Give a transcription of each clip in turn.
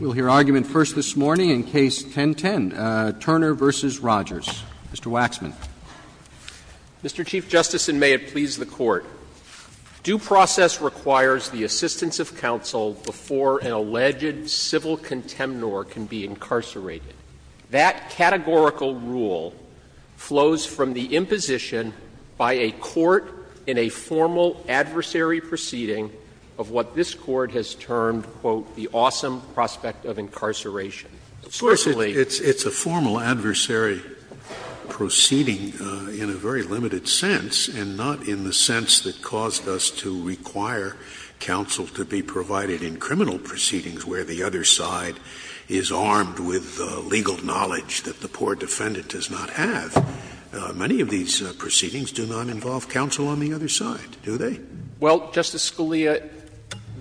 We'll hear argument first this morning in Case 1010, Turner v. Rogers. Mr. Waxman. Mr. Chief Justice, and may it please the Court, due process requires the assistance of counsel before an alleged civil contemnor can be incarcerated. That categorical rule flows from the imposition by a court in a formal adversary proceeding of what this Court has termed, quote, the awesome prospect of incarceration. Scalia Of course, it's a formal adversary proceeding in a very limited sense, and not in the sense that caused us to require counsel to be provided in criminal proceedings where the other side is armed with legal knowledge that the poor in the proceedings do not involve counsel on the other side, do they? Well, Justice Scalia,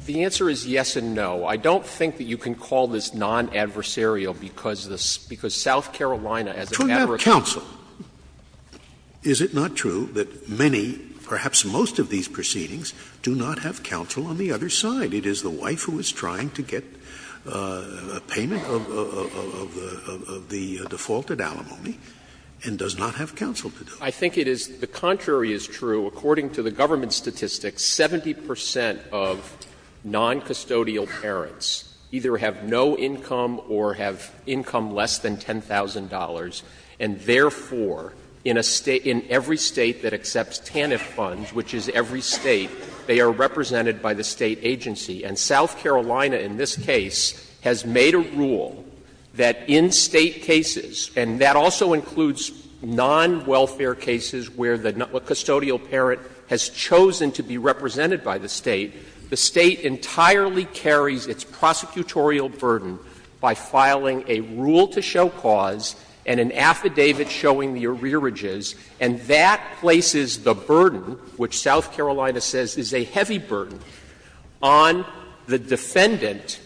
the answer is yes and no. I don't think that you can call this non-adversarial because the — because South Carolina, as an adversary — To have counsel. Is it not true that many, perhaps most of these proceedings do not have counsel on the other side? It is the wife who is trying to get a payment of the default at alimony and does not have counsel to do it. I think it is — the contrary is true. According to the government statistics, 70 percent of noncustodial parents either have no income or have income less than $10,000, and therefore in a — in every State that accepts TANF funds, which is every State, they are represented by the State agency. And South Carolina, in this case, has made a rule that in State cases and that also includes non-welfare cases where the custodial parent has chosen to be represented by the State, the State entirely carries its prosecutorial burden by filing a rule-to-show clause and an affidavit showing the arrearages, and that places the burden, which South Carolina says is a heavy burden, on the defendant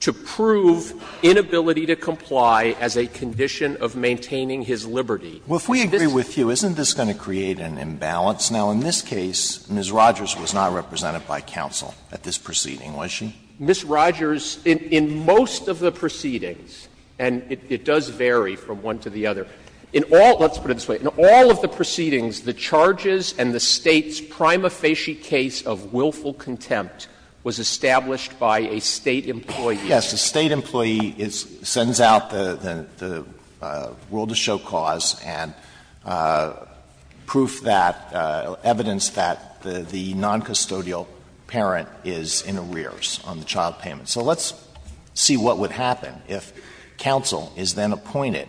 to prove inability to comply as a condition of maintaining his liberty. Well, if we agree with you, isn't this going to create an imbalance? Now, in this case, Ms. Rogers was not represented by counsel at this proceeding, was she? Ms. Rogers, in most of the proceedings — and it does vary from one to the other — in all — let's put it this way. In all of the proceedings, the charges and the State's prima facie case of willful contempt was established by a State employee. Yes, the State employee sends out the rule-to-show clause and proof that — evidence that the non-custodial parent is in arrears on the child payment. So let's see what would happen if counsel is then appointed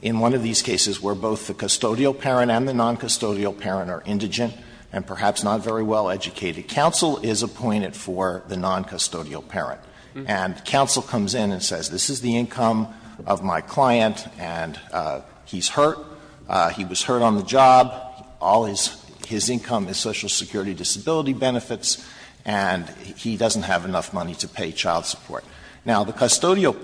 in one of these cases where both the custodial parent and the non-custodial parent are indigent and perhaps not very well educated. The counsel is appointed for the non-custodial parent, and counsel comes in and says, this is the income of my client, and he's hurt. He was hurt on the job. All his income is Social Security disability benefits, and he doesn't have enough money to pay child support. Now, the custodial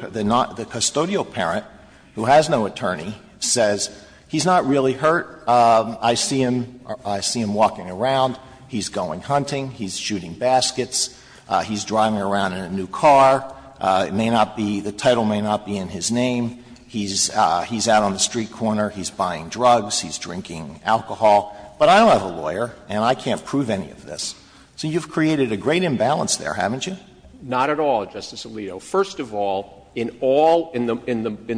parent, who has no attorney, says, he's not really hurt. I see him walking around. He's going hunting. He's shooting baskets. He's driving around in a new car. It may not be — the title may not be in his name. He's out on the street corner. He's buying drugs. He's drinking alcohol. But I don't have a lawyer, and I can't prove any of this. So you've created a great imbalance there, haven't you? Not at all, Justice Alito. First of all, in all — in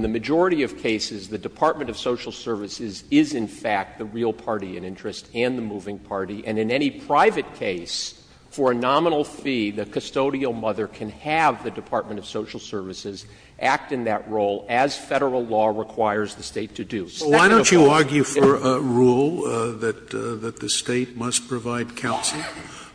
the majority of cases, the Department of Social Services is, in fact, the real party in interest and the moving party. And in any private case, for a nominal fee, the custodial mother can have the Department of Social Services act in that role, as Federal law requires the State to do. So why don't you argue for a rule that the State must provide counsel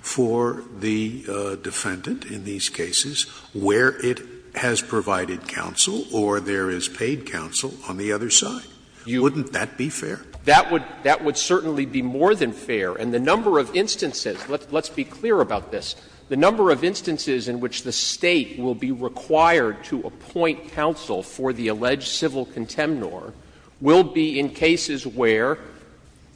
for the defendant in these cases where it has provided counsel or there is paid counsel on the other side? Wouldn't that be fair? That would certainly be more than fair. And the number of instances — let's be clear about this. The number of instances in which the State will be required to appoint counsel for the alleged civil contemnor will be in cases where —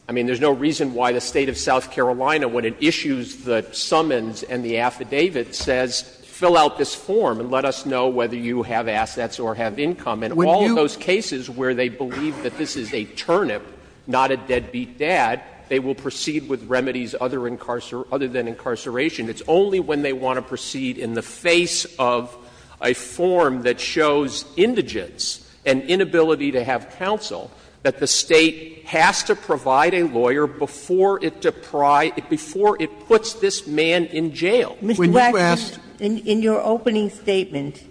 I mean, there's no reason why the State of South Carolina, when it issues the summons and the affidavit, says, fill out this form and let us know whether you have assets or have income. And in all of those cases where they believe that this is a turnip, not a deadbeat dad, they will proceed with remedies other than incarceration. It's only when they want to proceed in the face of a form that shows indigence and inability to have counsel that the State has to provide a lawyer before it deprive — before it puts this man in jail. When you asked — Mr. Blackman, in your opening statement,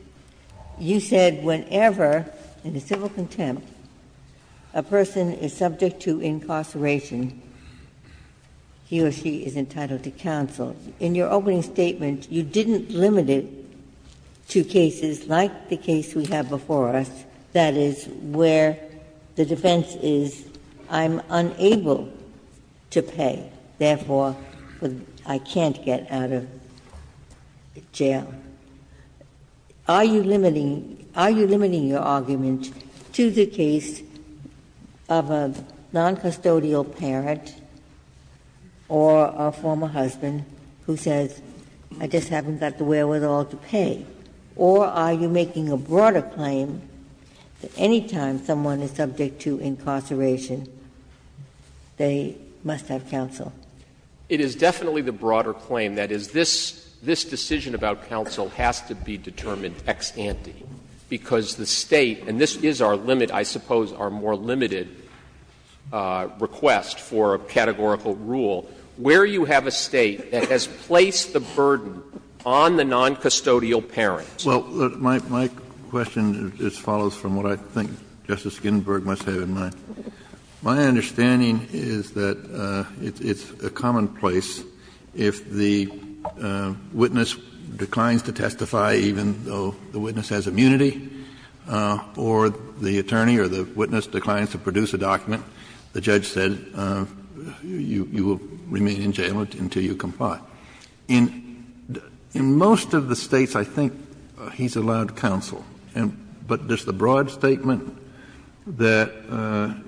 you said whenever, in a civil contempt, a person is subject to incarceration, he or she is entitled to counsel. In your opening statement, you didn't limit it to cases like the case we have before us, that is, where the defense is, I'm unable to pay, therefore, I can't get out of jail. Are you limiting — are you limiting your arguments to the case of a noncustodial parent or a former husband who says, I just haven't got the wherewithal to pay? Or are you making a broader claim that any time someone is subject to incarceration, they must have counsel? It is definitely the broader claim. That is, this decision about counsel has to be determined ex ante, because the State — and this is our limit, I suppose, our more limited request for a categorical rule. Where you have a State that has placed the burden on the noncustodial parent — Well, my question just follows from what I think Justice Ginsburg must have in mind. My understanding is that it's a commonplace if the witness declines to testify even though the witness has immunity or the attorney or the witness declines to produce a document, the judge says you will remain in jail until you comply. Now, in most of the States, I think he's allowed counsel. But just the broad statement that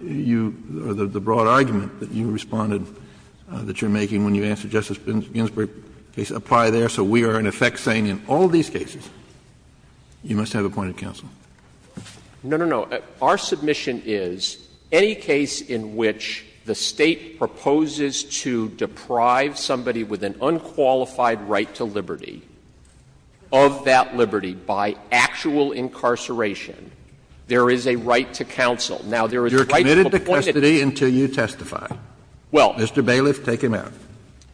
you — or the broad argument that you responded — that you're making when you answered Justice Ginsburg's case, apply there. So we are, in effect, saying in all these cases, you must have appointed counsel. No, no, no. Our submission is, any case in which the State proposes to deprive somebody with an unqualified right to liberty of that liberty by actual incarceration, there is a right to counsel. Now, there is a right to appoint a — You're committed to custody until you testify. Well — Mr. Bailiff, take him out.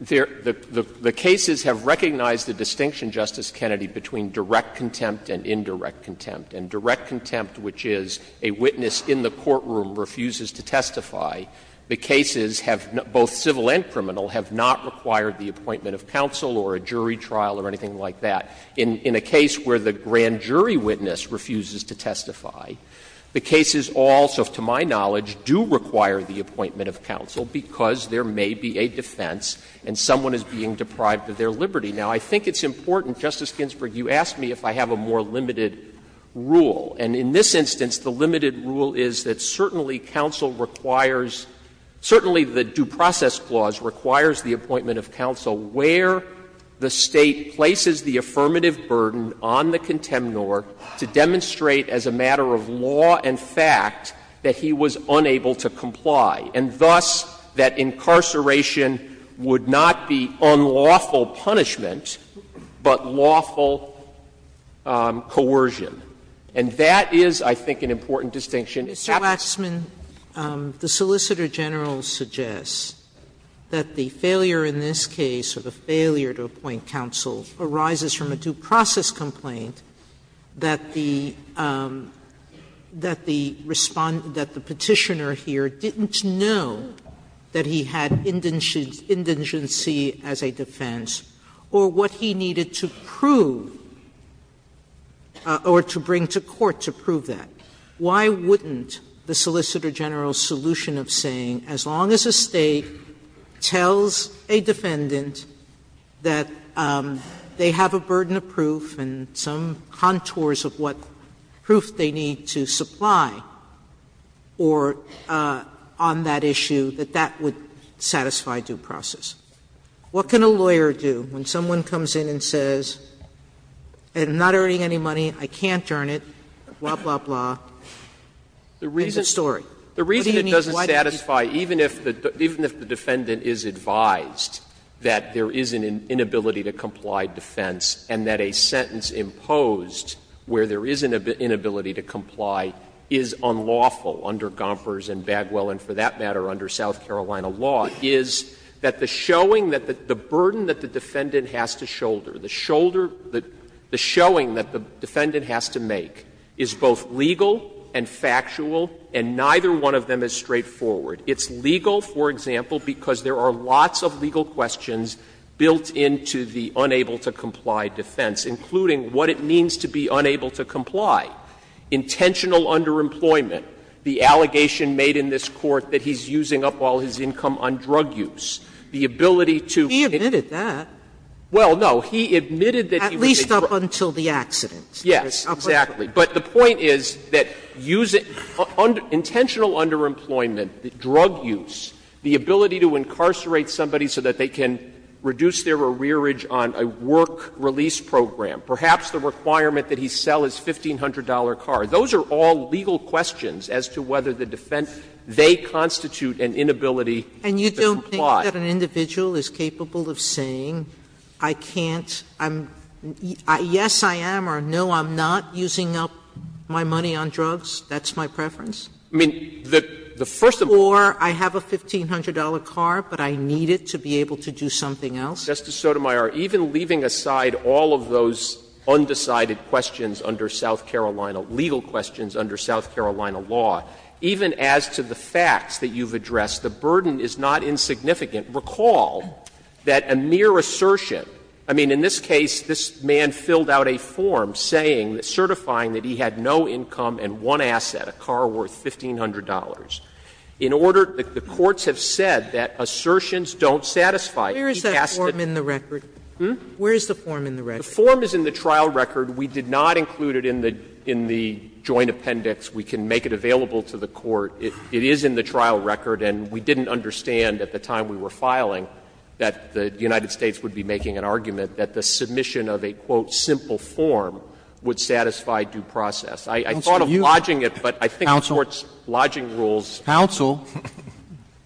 The cases have recognized the distinction, Justice Kennedy, between direct contempt and indirect contempt. And direct contempt, which is a witness in the courtroom refuses to testify, the cases have — both civil and criminal — have not required the appointment of counsel or a jury trial or anything like that. In a case where the grand jury witness refuses to testify, the cases also, to my knowledge, do require the appointment of counsel because there may be a defense and someone is being deprived of their liberty. Now, I think it's important, Justice Ginsburg, you asked me if I have a more limited rule. And in this instance, the limited rule is that certainly counsel requires — certainly the Due Process Clause requires the appointment of counsel where the State places the affirmative burden on the contemnor to demonstrate as a matter of law and fact that he was unable to comply, and thus that incarceration would not be unlawful punishment but lawful coercion. And that is, I think, an important distinction. Mr. Waxman, the Solicitor General suggests that the failure in this case of a failure to appoint counsel arises from a due process complaint that the — that the — that the petitioner here didn't know that he had indigency as a defense or what he needed to prove or to bring to court to prove that. Why wouldn't the Solicitor General's solution of saying as long as a State tells a defendant that they have a burden of proof and some contours of what proof they need to supply on that issue, that that would satisfy due process? What can a lawyer do when someone comes in and says, I'm not earning any money, I can't earn it, blah, blah, blah? The reason it doesn't satisfy, even if the defendant is advised that there is an inability to comply defense and that a sentence imposed where there is an inability to comply is unlawful under Gompers and Bagwell and, for that matter, under South Carolina law, is that the showing that the burden that the defendant has to shoulder, the showing that the defendant has to make, is both legal and factual, and neither one of them is straightforward. It's legal, for example, because there are lots of legal questions built into the unable to comply defense, including what it means to be unable to comply, intentional underemployment, the allegation made in this court that he's using up all his income on drug use, the ability to — He admitted that. Well, no, he admitted that — At least up until the accident. Yes. Yes, exactly. But the point is that use — intentional underemployment, drug use, the ability to incarcerate somebody so that they can reduce their arrearage on a work release program, perhaps the requirement that he sell his $1,500 car, those are all legal questions as to whether the defense — they constitute an inability to comply. And you don't think that an individual is capable of saying, I can't — yes, I am, or no, I'm not using up my money on drugs, that's my preference? I mean, the first — Or I have a $1,500 car, but I need it to be able to do something else? Justice Sotomayor, even leaving aside all of those undecided questions under South Carolina — legal questions under South Carolina law, even as to the facts that you've addressed, the burden is not insignificant. Recall that a mere assertion — I mean, in this case, this man filled out a form saying — certifying that he had no income and one asset, a car worth $1,500. In order — the courts have said that assertions don't satisfy — Where is that form in the record? Hmm? Where is the form in the record? The form is in the trial record. We did not include it in the — in the joint appendix. We can make it available to the court. It is in the trial record, and we didn't understand at the time we were filing that the United States would be making an argument that the submission of a, quote, simple form would satisfy due process. I thought of lodging it, but I think the court's lodging rules — Counsel. Counsel.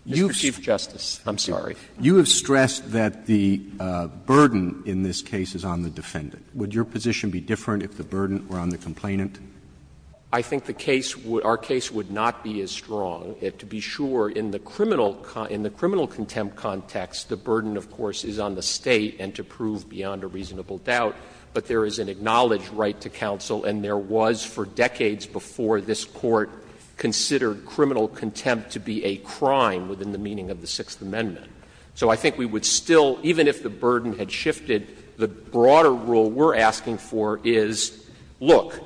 Mr. Chief Justice. I'm sorry. You have stressed that the burden in this case is on the defendant. Would your position be different if the burden were on the complainant? I think the case would — our case would not be as strong. To be sure, in the criminal — in the criminal contempt context, the burden, of course, is on the State and to the reasonable doubt, but there is an acknowledged right to counsel, and there was for decades before this Court considered criminal contempt to be a crime within the meaning of the Sixth Amendment. So I think we would still — even if the burden had shifted, the broader rule we're asking for is, look,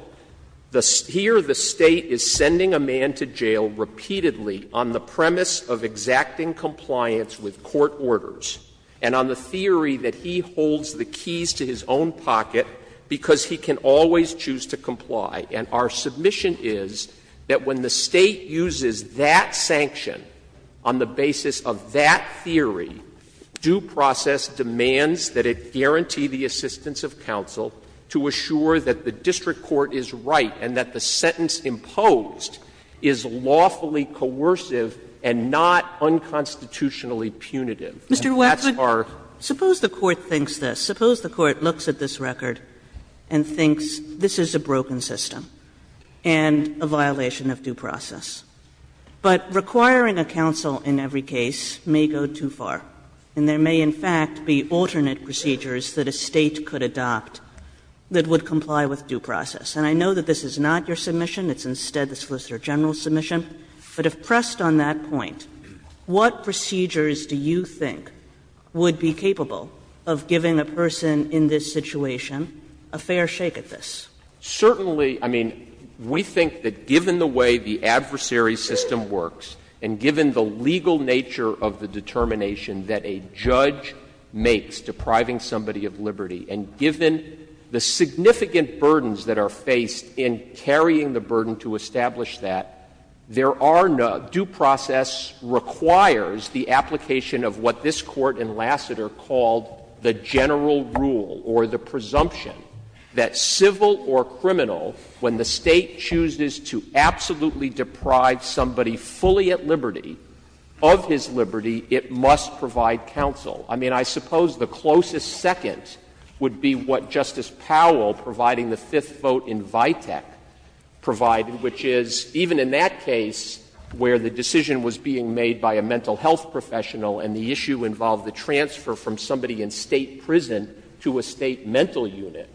the — here the State is sending a man to jail repeatedly on the premise of exacting compliance with court orders, and on the theory that he holds the keys to his own pocket because he can always choose to comply. And our submission is that when the State uses that sanction on the basis of that theory, due process demands that it guarantee the assistance of counsel to assure that the district court is right and that the sentence imposed is lawfully coercive and not unconstitutionally punitive. That's our — Suppose the Court looks at this record and thinks, this is a broken system and a violation of due process. But requiring a counsel in every case may go too far, and there may, in fact, be alternate procedures that a State could adopt that would comply with due process. And I know that this is not your submission. It's instead the Solicitor General's submission, but if pressed on that point, what procedures do you think would be capable of giving a person in this situation a fair shake at this? Certainly — I mean, we think that given the way the adversary system works and given the legal nature of the determination that a judge makes depriving somebody of liberty and given the significant burdens that are faced in carrying the burden to establish that, there are no — due process requires the application of what this Court in Lassiter called the general rule or the presumption that civil or criminal, when the State chooses to absolutely deprive somebody fully at liberty of his liberty, it must provide counsel. I mean, I suppose the closest seconds would be what Justice Powell, providing the fifth vote in Vitek, provided, which is, even in that case where the decision was being made by a mental health professional and the issue involved the transfer from somebody in State prison to a State mental unit,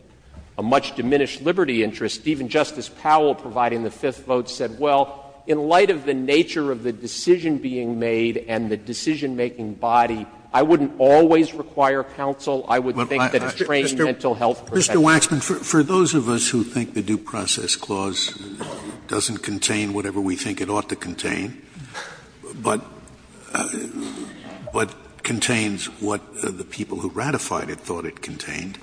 a much-diminished liberty interest, even Justice Powell, providing the fifth vote, said, well, in light of the nature of the decision being made and the decision-making body, I wouldn't always require counsel. I would think that a trained mental health professional — Mr. Waxman, for those of us who think the Due Process Clause doesn't contain whatever we think it ought to contain, but contains what the people who ratified it thought it contained,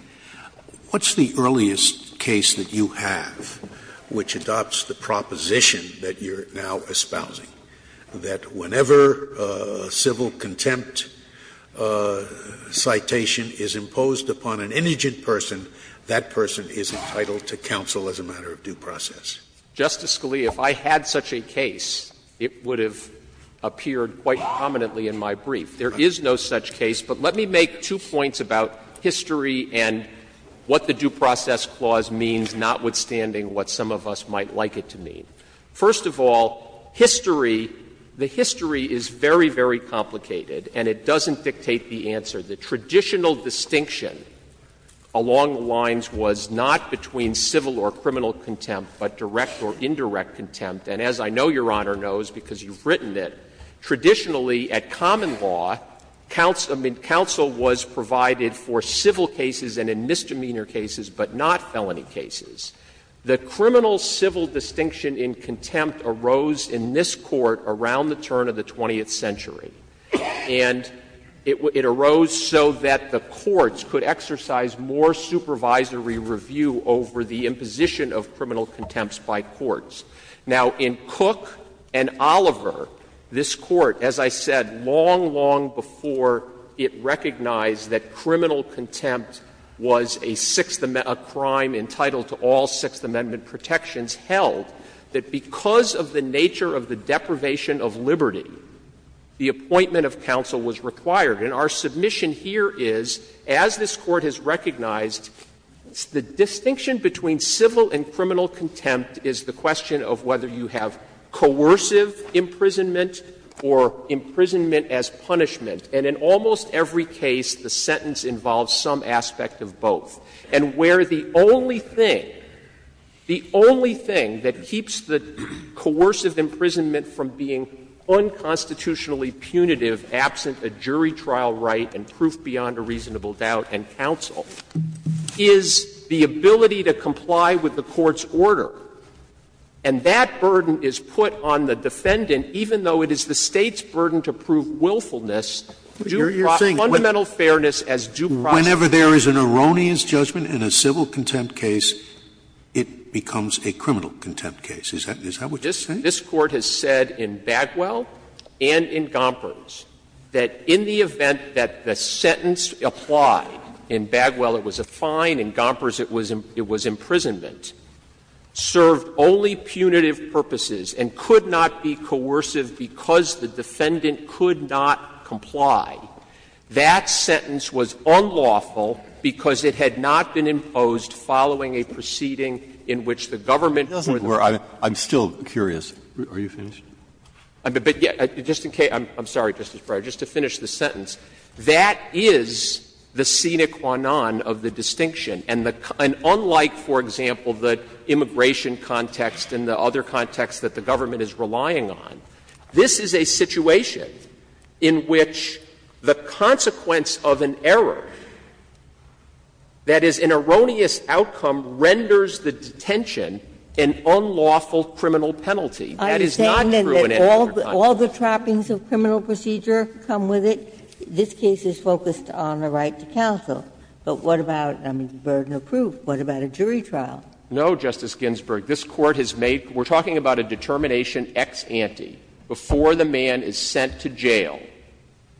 what's the earliest case that you have which adopts the proposition that you're now espousing, that whenever a civil contempt citation is imposed upon an indigent person, that person is entitled to counsel as a matter of due process? Justice Scalia, if I had such a case, it would have appeared quite prominently in my brief. There is no such case, but let me make two points about history and what the Due Process Clause means, notwithstanding what some of us might like it to mean. First of all, history — the history is very, very complicated, and it doesn't dictate the answer. The traditional distinction along the lines was not between civil or criminal contempt, but direct or indirect contempt. And as I know Your Honor knows because you've written it, traditionally at common law, counsel was provided for civil cases and in misdemeanor cases, but not felony cases. The criminal-civil distinction in contempt arose in this Court around the turn of the 20th century. And it arose so that the courts could exercise more supervisory review over the imposition of criminal contempt by courts. Now, in Cook and Oliver, this Court, as I said, long, long before it recognized that criminal contempt was a sixth — a crime entitled to all Sixth Amendment protections, held that because of the nature of the deprivation of liberty, the appointment of counsel was required. And our submission here is, as this Court has recognized, the distinction between civil and criminal contempt is the question of whether you have coercive imprisonment or imprisonment as punishment. And in almost every case, the sentence involves some aspect of both. And where the only thing — the only thing that keeps the coercive imprisonment from being unconstitutionally punitive, absent a jury trial right and proof beyond a reasonable doubt and counsel, is the ability to comply with the Court's order. And that burden is put on the defendant, even though it is the State's burden to prove willfulness, due — But you're saying — Fundamental fairness as due process. Whenever there is an erroneous judgment in a civil contempt case, it becomes a criminal contempt case. Is that — is that what you're saying? This Court has said in Badwell and in Gompers that in the event that the sentence applied — in Badwell it was a fine, in Gompers it was — it was imprisonment — served only punitive purposes and could not be coercive because the defendant could not comply, that sentence was unlawful because it had not been imposed following a proceeding in which the government — I'm still curious. Are you finished? But just in case — I'm sorry, Justice Breyer, just to finish the sentence. That is the sine qua non of the distinction. And unlike, for example, the immigration context and the other contexts that the government is relying on, this is a situation in which the consequence of an error that is an erroneous outcome renders the detention an unlawful criminal penalty. That is not true in any court context. I'm saying that all the trappings of criminal procedure come with it. This case is focused on the right to counsel. But what about — I mean, the burden of proof. What about a jury trial? No, Justice Ginsburg. This Court has made — we're talking about a determination ex ante before the man is sent to jail,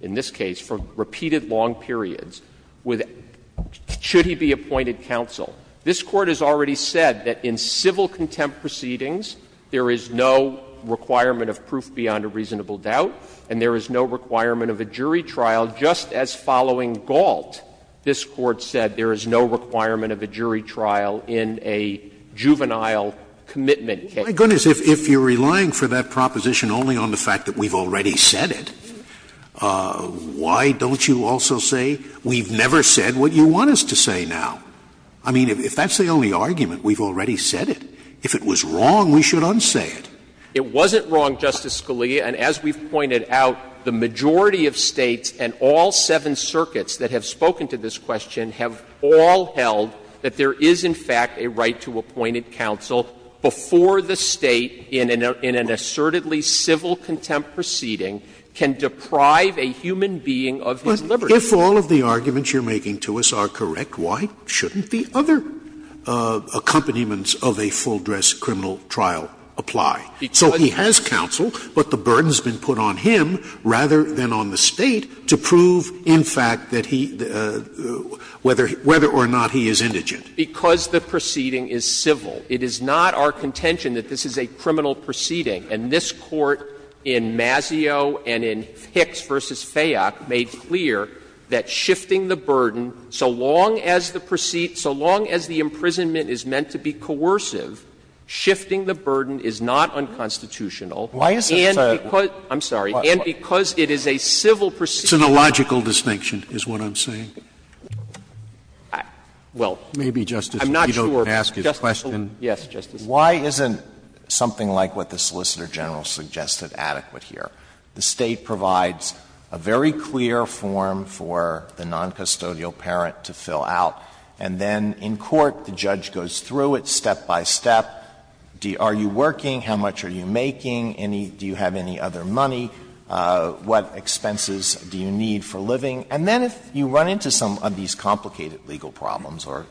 in this case, for repeated long periods, with — should he be appointed counsel. This Court has already said that in civil contempt proceedings, there is no requirement of proof beyond a reasonable doubt, and there is no requirement of a jury trial, just as following Galt, this Court said there is no requirement of a jury trial in a juvenile commitment case. My goodness, if you're relying for that proposition only on the fact that we've already said it, why don't you also say we've never said what you want us to say now? I mean, if that's the only argument, we've already said it. If it was wrong, we should unsay it. It wasn't wrong, Justice Scalia. And as we've pointed out, the majority of states and all seven circuits that have spoken to this question have all held that there is, in fact, a right to appointed counsel before the state in an assertedly civil contempt proceeding can deprive a human being of his liberty. But if all of the arguments you're making to us are correct, why shouldn't the other accompaniments of a full-dress criminal trial apply? So he has counsel, but the burden's been put on him rather than on the state to prove, in fact, that he — whether or not he is indigent. Because the proceeding is civil. It is not our contention that this is a criminal proceeding. And this Court in Mazzeo and in Hicks v. Fayok made clear that shifting the burden, so long as the — so long as the imprisonment is meant to be coercive, shifting the burden is not unconstitutional. Why is it — And because — I'm sorry. And because it is a civil proceeding — It's an illogical distinction, is what I'm saying. Well, I'm not sure — Maybe, Justice, if you don't ask his question — Yes, Justice. Why isn't something like what the Solicitor General suggested adequate here? The state provides a very clear form for the noncustodial parent to fill out, and then in court the judge goes through it step by step. Are you working? How much are you making? Do you have any other money? What expenses do you need for living? And then if you run into some of these complicated legal problems, or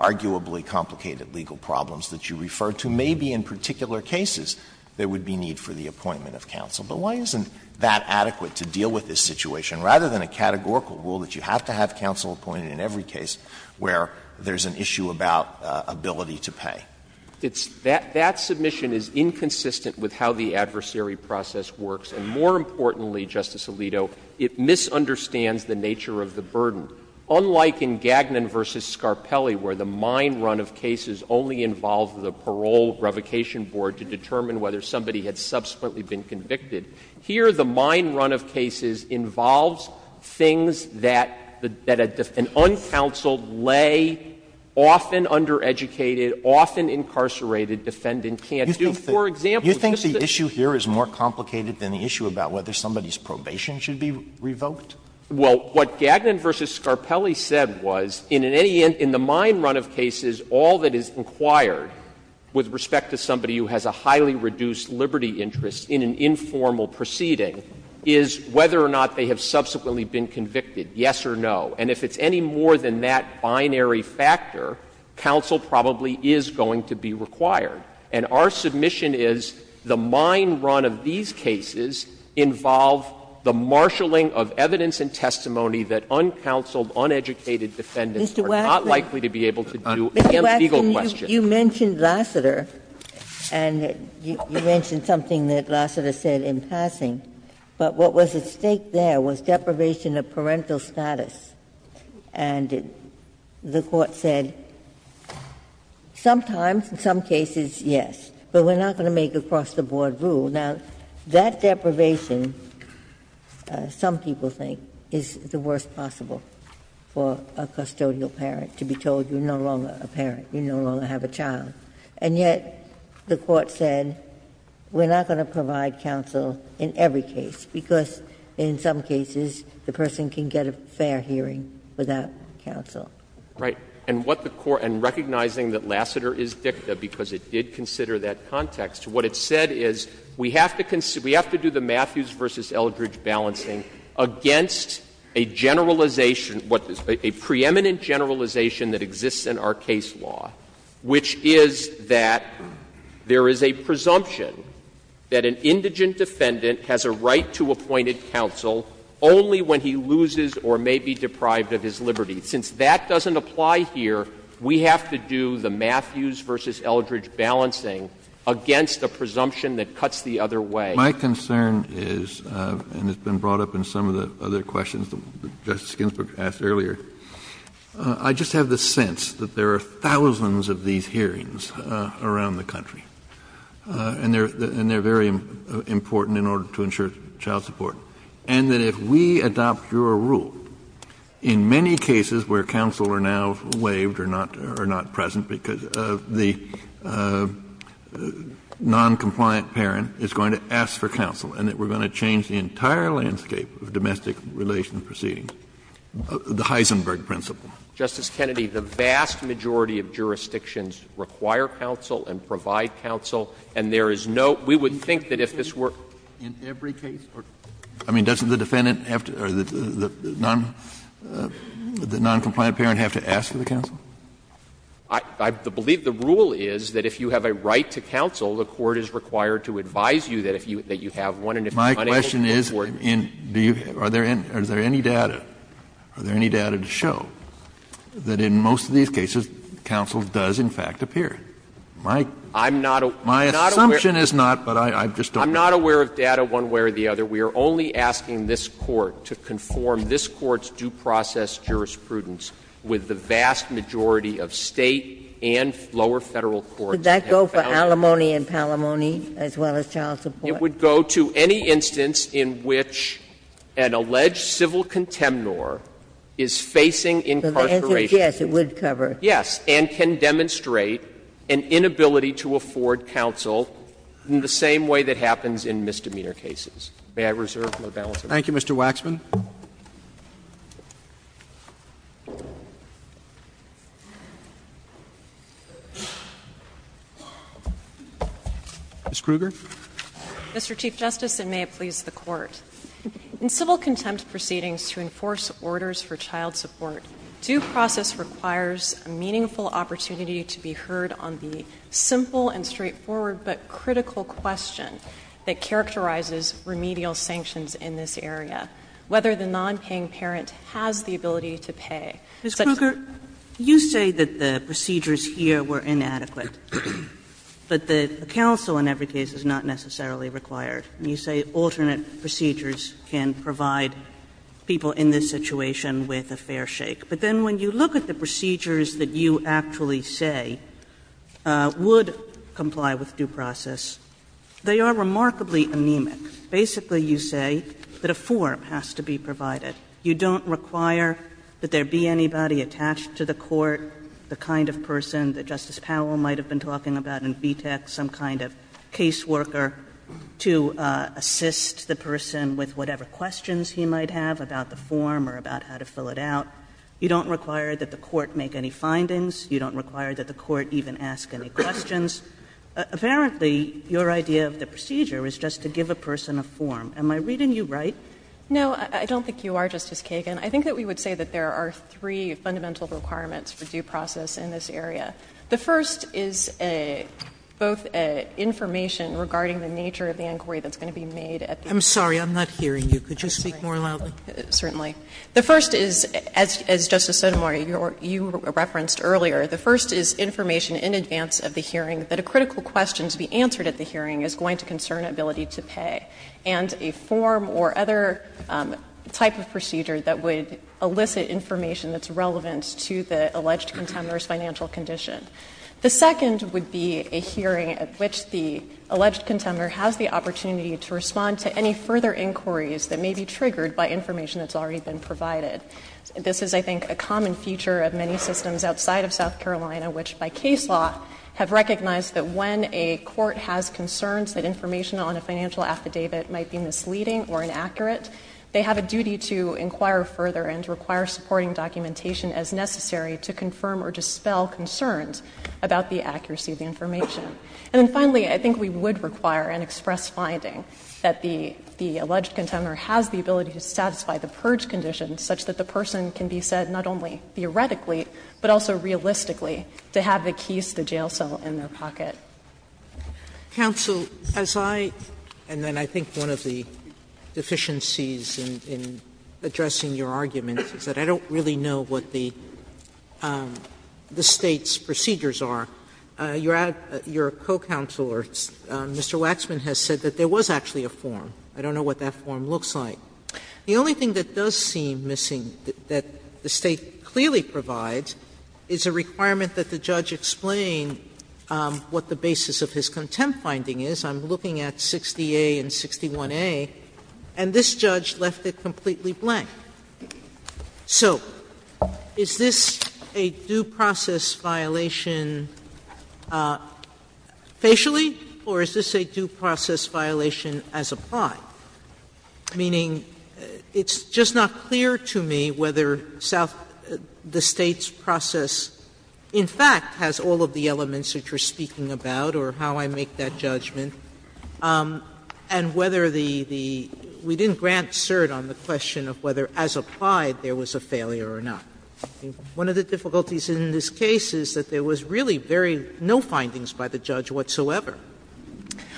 arguably complicated legal problems that you referred to, maybe in particular cases there would be need for the appointment of counsel. But why isn't that adequate to deal with this situation, rather than a categorical rule that you have to have counsel appointed in every case where there's an issue about ability to pay? That submission is inconsistent with how the adversary process works. And more importantly, Justice Alito, it misunderstands the nature of the burden. Unlike in Gagnon v. Scarpelli, where the mine run of cases only involved the parole revocation board to determine whether somebody had subsequently been convicted, here the mine run of cases involves things that an uncounseled, lay, often undereducated, often incarcerated defendant can't do. For example, this is the — Do you think the issue here is more complicated than the issue about whether somebody's probation should be revoked? Well, what Gagnon v. Scarpelli said was, in the mine run of cases, all that is inquired with respect to somebody who has a highly reduced liberty interest in an informal proceeding is whether or not they have subsequently been convicted, yes or no. And if it's any more than that binary factor, counsel probably is going to be required. And our submission is the mine run of these cases involve the marshaling of evidence and testimony that uncounseled, uneducated defendants are not likely to be able to do, and legal questions. You mentioned Lassiter and you mentioned something that Lassiter said in passing, but what was at stake there was deprivation of parental status. And the court said, sometimes, in some cases, yes, but we're not going to make the cross-the-board rule. Now, that deprivation, some people think, is the worst possible for a custodial parent, to be told you're no longer a parent, you no longer have a child. And yet, the court said, we're not going to provide counsel in every case, because in some cases, the person can get a fair hearing without counsel. Right. And what the court, and recognizing that Lassiter is dicta, because it did consider that context, what it said is, we have to do the Matthews v. Eldridge balancing against a generalization, a preeminent generalization that exists in our case law, which is that there is a presumption that an indigent defendant has a right to appointed counsel only when he loses or may be deprived of his liberty. Since that doesn't apply here, we have to do the Matthews v. Eldridge balancing against a presumption that cuts the other way. My concern is, and it's been brought up in some of the other questions that Justice Ginsburg asked earlier, I just have the sense that there are thousands of these hearings around the country, and they're very important in order to ensure child support. And that if we adopt your rule, in many cases where counsel are now waived or not present because of the noncompliant parent, it's going to ask for counsel, and that we're going to change the entire landscape of domestic relations proceedings, the Heisenberg principle. Justice Kennedy, the vast majority of jurisdictions require counsel and provide counsel, and there is no — we would think that if this were in every case or — I mean, doesn't the defendant have to — or the noncompliant parent have to ask for counsel? I believe the rule is that if you have a right to counsel, the court is required to advise you that if you — that you have one, and if you want to take it to court — My question is, do you — are there any data — are there any data to show that in most of these cases, counsel does, in fact, appear? My — I'm not aware — My assumption is not, but I just don't — I'm not aware of data one way or the other. We are only asking this Court to conform this Court's due process jurisprudence with the vast majority of State and lower Federal courts. Would that go for alimony and palimony, as well as child support? It would go to any instance in which an alleged civil contemnor is facing incarceration. So the instance, yes, it would cover. Yes, and can demonstrate an inability to afford counsel in the same way that happens in misdemeanor cases. May I reserve my balance of time? Thank you, Mr. Waxman. Ms. Kruger? Mr. Chief Justice, and may it please the Court, in civil contempt proceedings to enforce orders for child support, due process requires a meaningful opportunity to be heard on the simple and straightforward but critical question that characterizes remedial sanctions in this case, whether the nonpaying parent has the ability to pay. Ms. Kruger, you say that the procedures here were inadequate, but the counsel in every case is not necessarily required. You say alternate procedures can provide people in this situation with a fair shake. But then when you look at the procedures that you actually say would comply with due process, they are remarkably anemic. Basically, you say that a form has to be provided. You don't require that there be anybody attached to the court, the kind of person that Justice Powell might have been talking about in VTAC, some kind of caseworker to assist the person with whatever questions he might have about the form or about how to fill it out. You don't require that the court make any findings. You don't require that the court even ask any questions. Apparently, your idea of the procedure is just to give a person a form. Am I reading you right? No, I don't think you are, Justice Kagan. I think that we would say that there are three fundamental requirements for due process in this area. The first is both information regarding the nature of the inquiry that's going to be made at the hearing. I'm sorry. I'm not hearing you. Could you speak more loudly? Certainly. The first is, as Justice Sotomayor, you referenced earlier, the first is information in advance of the hearing that a critical question to be answered at the hearing is going to concern ability to pay and a form or other type of procedure that would elicit information that's relevant to the alleged consumer's financial condition. The second would be a hearing at which the alleged consumer has the opportunity to respond to any further inquiries that may be triggered by information that's already been provided. This is, I think, a common feature of many systems outside of South Carolina, which by the way, a court has concerns that information on a financial affidavit might be misleading or inaccurate. They have a duty to inquire further and to require supporting documentation as necessary to confirm or dispel concerns about the accuracy of the information. And then finally, I think we would require an express finding that the alleged consumer has the ability to satisfy the purge conditions such that the person can be said not only Counsel, as I — and then I think one of the deficiencies in addressing your argument is that I don't really know what the State's procedures are. Your co-counselor, Mr. Waxman, has said that there was actually a form. I don't know what that form looks like. The only thing that does seem missing that the State clearly provides is a requirement that the judge explain what the basis of his contempt finding is. I'm looking at 60A and 61A, and this judge left it completely blank. So is this a due process violation facially, or is this a due process violation as applied? Meaning it's just not clear to me whether the State's process in fact has all of the elements that you're speaking about or how I make that judgment, and whether the — we didn't grant cert on the question of whether as applied there was a failure or not. One of the difficulties in this case is that there was really very — no findings by the judge whatsoever.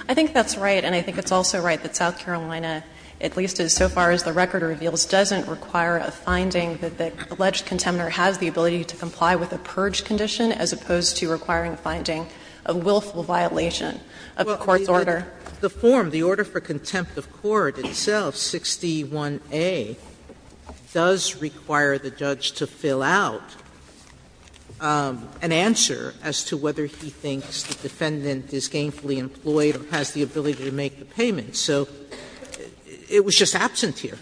I think that's right, and I think it's also right that South Carolina, at least as so far as the record reveals, doesn't require a finding that the alleged contender has the ability to comply with a purge condition as opposed to requiring finding a willful violation of a court's order. The form, the order for contempt of court itself, 61A, does require the judge to fill out an answer as to whether he thinks the defendant is gainfully employed or has the ability to make the payment. So it was just absence here.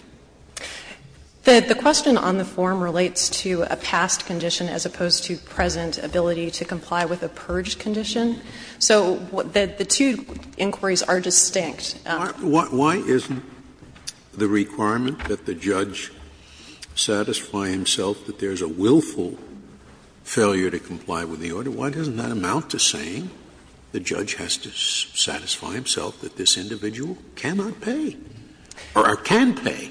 The question on the form relates to a past condition as opposed to present ability to comply with a purge condition. So the two inquiries are distinct. Why isn't the requirement that the judge satisfy himself that there's a willful failure to comply with the order? Why doesn't that amount to saying the judge has to satisfy himself that this individual cannot pay or can pay?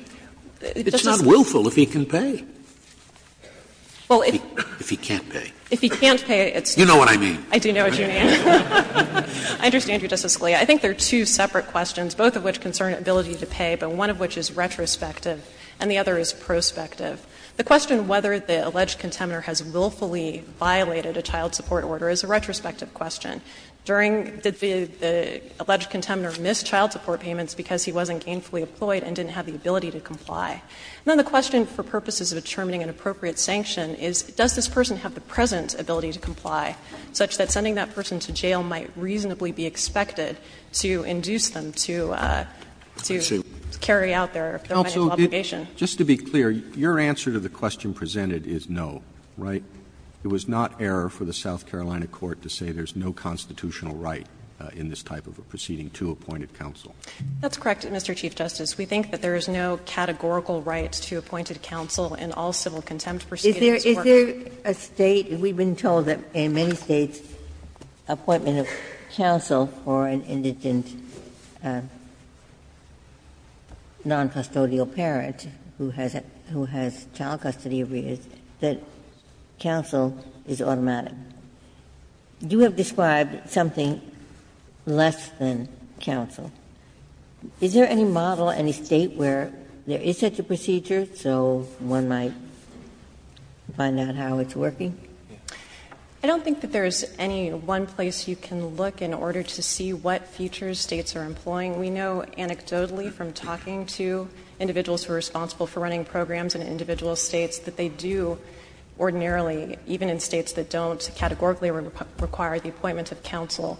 It's not willful if he can pay. If he can't pay. If he can't pay — You know what I mean. I do know what you mean. I understand you, Justice Scalia. I think there are two separate questions, both of which concern ability to pay, but one of which is retrospective and the other is prospective. The question whether the alleged contender has willfully violated a child support order is a retrospective question. During the alleged contender missed child support payments because he wasn't gainfully employed and didn't have the ability to comply. And then the question for purposes of determining an appropriate sanction is does this person have the present ability to comply such that sending that person to jail might reasonably be expected to induce them to carry out their obligations? Counsel, just to be clear, your answer to the question presented is no, right? It was not error for the South Carolina court to say there's no constitutional right in this type of a proceeding to appointed counsel. That's correct, Mr. Chief Justice. We think that there is no categorical right to appointed counsel in all civil contempt proceedings. Is there a state, we've been told that in many states appointment of counsel for an indigent noncustodial parent who has child custody abuse, that counsel is automatic. You have described something less than counsel. Is there any model, any state where there is such a procedure so one might find out how it's working? I don't think that there's any one place you can look in order to see what features states are employing. We know anecdotally from talking to individuals who are responsible for running programs in individual states that they do ordinarily, even in states that don't categorically require the appointment of counsel,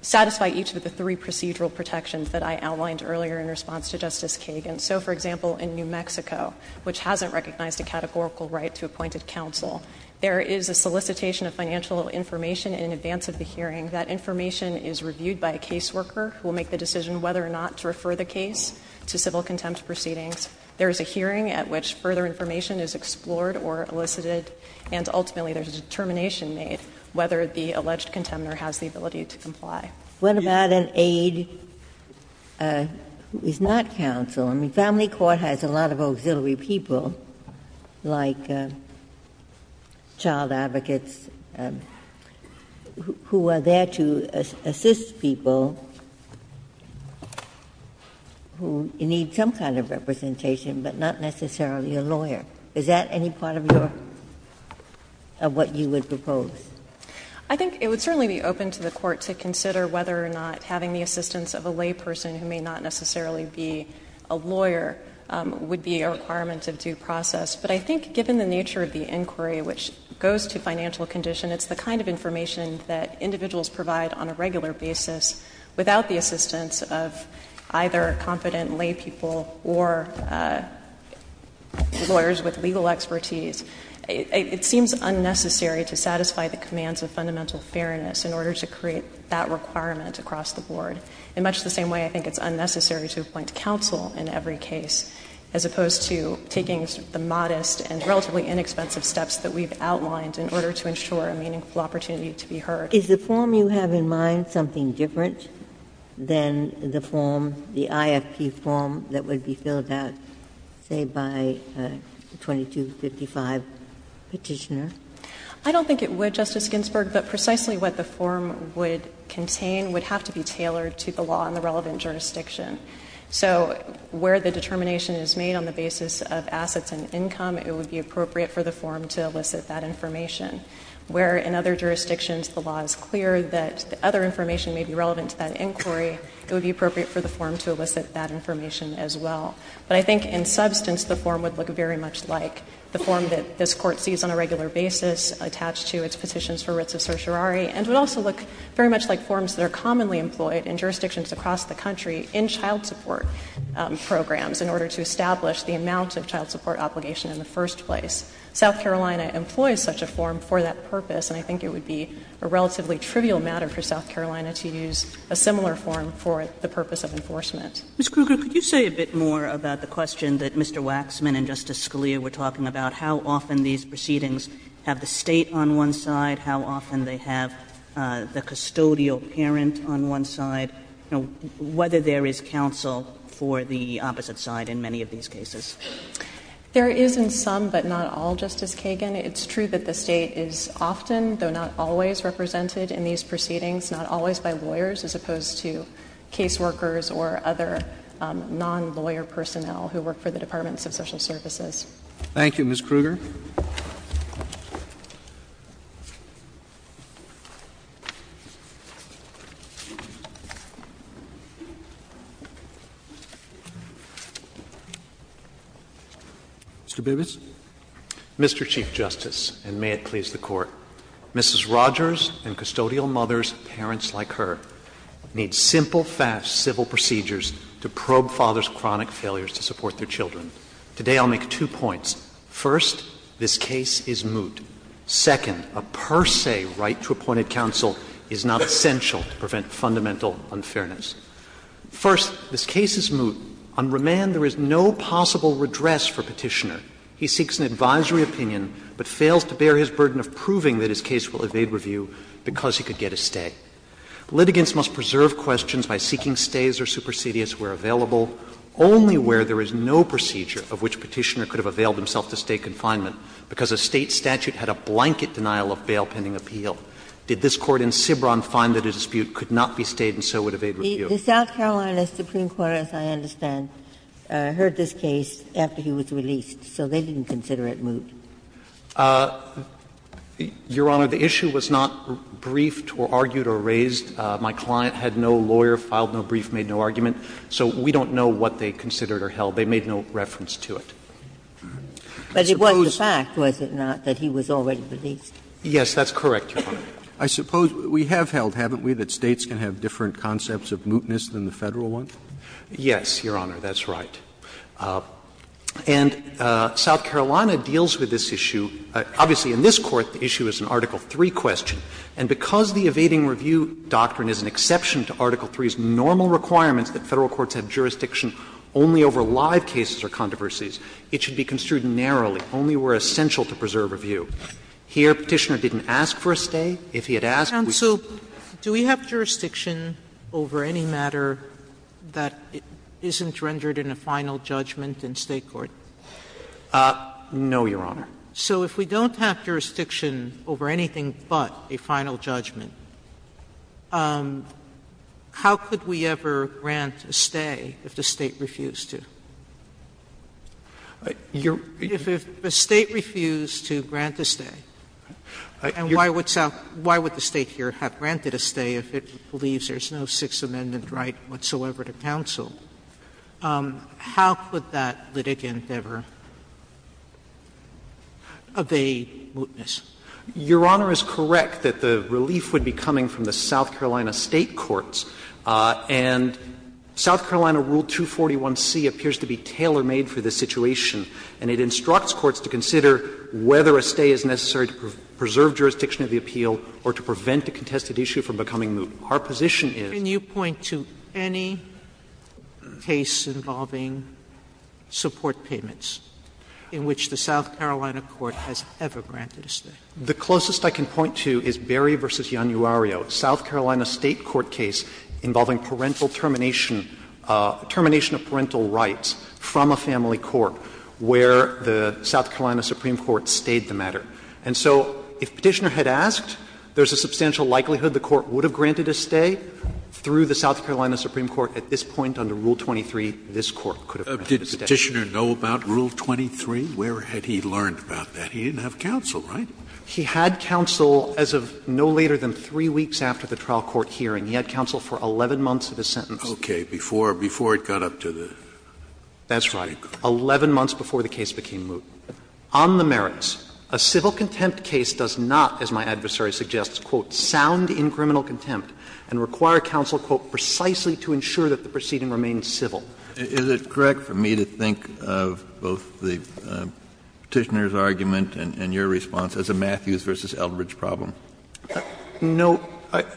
satisfy each of the three procedural protections that I outlined earlier in response to Justice Kagan. So, for example, in New Mexico, which hasn't recognized a categorical right to appointed counsel, there is a solicitation of financial information in advance of the hearing. That information is reviewed by a caseworker who will make the decision whether or not to refer the case to civil contempt proceedings. There is a hearing at which further information is explored or elicited, and ultimately there's a determination made whether the alleged contender has the ability to comply. What about an aide who is not counsel? I mean, family court has a lot of auxiliary people, like child advocates, who are there to assist people who need some kind of representation, but not necessarily a lawyer. Is that any part of what you would propose? I think it would certainly be open to the court to consider whether or not having the assistance of a layperson who may not necessarily be a lawyer would be a requirement of due process. But I think given the nature of the inquiry, which goes to financial condition, it's the kind of information that individuals provide on a regular basis without the assistance of either a competent laypeople or lawyers with legal expertise. It seems unnecessary to satisfy the commands of fundamental fairness in order to create that requirement across the board. In much the same way, I think it's unnecessary to appoint counsel in every case, as opposed to taking the modest and relatively inexpensive steps that we've outlined in order to ensure a meaningful opportunity to be heard. Is the form you have in mind something different than the form, the IFP form that would be filled out, say, by a 2255 petitioner? I don't think it would, Justice Ginsburg, but precisely what the form would contain would have to be tailored to the law in the relevant jurisdiction. So where the determination is made on the basis of assets and income, it would be appropriate for the form to elicit that information. Where in other jurisdictions the law is clear that other information may be relevant to that inquiry, it would be appropriate for the form to elicit that information as well. But I think in substance, the form would look very much like the form that this Court sees on a regular basis, attached to its Petitions for Writs of Sorcery, and would also look very much like forms that are commonly employed in jurisdictions across the country in child support programs in order to establish the amounts of child support obligation in the first place. South Carolina employs such a form for that purpose, and I think it would be a relatively trivial matter for South Carolina to use a similar form for the purpose of enforcement. Ms. Kruger, could you say a bit more about the question that Mr. Waxman and Justice Scalia were talking about, how often these proceedings have the State on one side, how often they have the custodial parent on one side, you know, whether there is counsel for the opposite side in many of these cases? There is in some, but not all, Justice Kagan. It's true that the State is often, though not always, represented in these proceedings, not always by lawyers as opposed to caseworkers or other non-lawyer personnel who work for the Departments of Social Services. Thank you, Ms. Kruger. Mr. Bibas? Mr. Chief Justice, and may it please the Court, Mrs. Rogers and custodial mothers, parents like her, need simple, fast, civil procedures to probe fathers' chronic failures to support their children. Today, I'll make two points. First, this case is moot. Second, a per se right to appointed counsel is not essential to prevent fundamental unfairness. First, this case is moot. On remand, there is no possible redress for Petitioner. He seeks an advisory opinion, but fails to bear his burden of proving that his case will evade review because he could get a stay. Litigants must preserve questions by seeking stays or supersedious where available, only where there is no procedure of which Petitioner could have availed himself to stay confinement because a State statute had a blanket denial of bail pending appeal. Did this Court in Sibron find that his dispute could not be stayed and so would evade review? The South Carolina Supreme Court, as I understand, heard this case after he was released, so they didn't consider it moot. Your Honor, the issue was not briefed or argued or raised. My client had no lawyer, filed no brief, made no argument. So we don't know what they considered or held. They made no reference to it. But it wasn't a fact, was it not, that he was already released? Yes, that's correct, Your Honor. I suppose we have held, haven't we, that States can have different concepts of mootness than the Federal ones? Yes, Your Honor, that's right. And South Carolina deals with this issue. Obviously, in this Court, the issue is an Article III question. And because the evading review doctrine is an exception to Article III's normal requirement that Federal courts have jurisdiction only over live cases or controversies, it should be construed narrowly, only where essential to preserve a view. Here, Petitioner didn't ask for a stay. If he had asked, we would have. So do we have jurisdiction over any matter that isn't rendered in a final judgment in State court? No, Your Honor. So if we don't have jurisdiction over anything but a final judgment, how could we ever grant a stay if the State refused to? If the State refused to grant a stay, and why would the State here have granted a stay if it believes there's no Sixth Amendment right whatsoever to counsel, how could that litigant ever evade mootness? Your Honor is correct that the relief would be coming from the South Carolina State Courts. And South Carolina Rule 241c appears to be tailor-made for this situation. And it instructs courts to consider whether a stay is necessary to preserve jurisdiction of the appeal or to prevent the contested issue from becoming moot. Our position is — Can you point to any case involving support payments in which the South Carolina Court has ever granted a stay? The closest I can point to is Berry v. Januario. It's a South Carolina State court case involving parental termination — termination of parental rights from a family court where the South Carolina Supreme Court stayed the matter. And so if Petitioner had asked, there's a substantial likelihood the court would have granted a stay. Through the South Carolina Supreme Court at this point under Rule 23, this court could have granted a stay. Did Petitioner know about Rule 23? Where had he learned about that? He didn't have counsel, right? He had counsel as of no later than three weeks after the trial court hearing. He had counsel for 11 months of his sentence. Okay. Before — before it got up to the — That's right. Eleven months before the case became moot. On the merits, a civil contempt case does not, as my adversary suggests, quote, sound in criminal contempt and require counsel, quote, precisely to ensure that the proceeding remains civil. Is it correct for me to think of both the Petitioner's argument and your response as a Matthews v. Eldridge problem? No.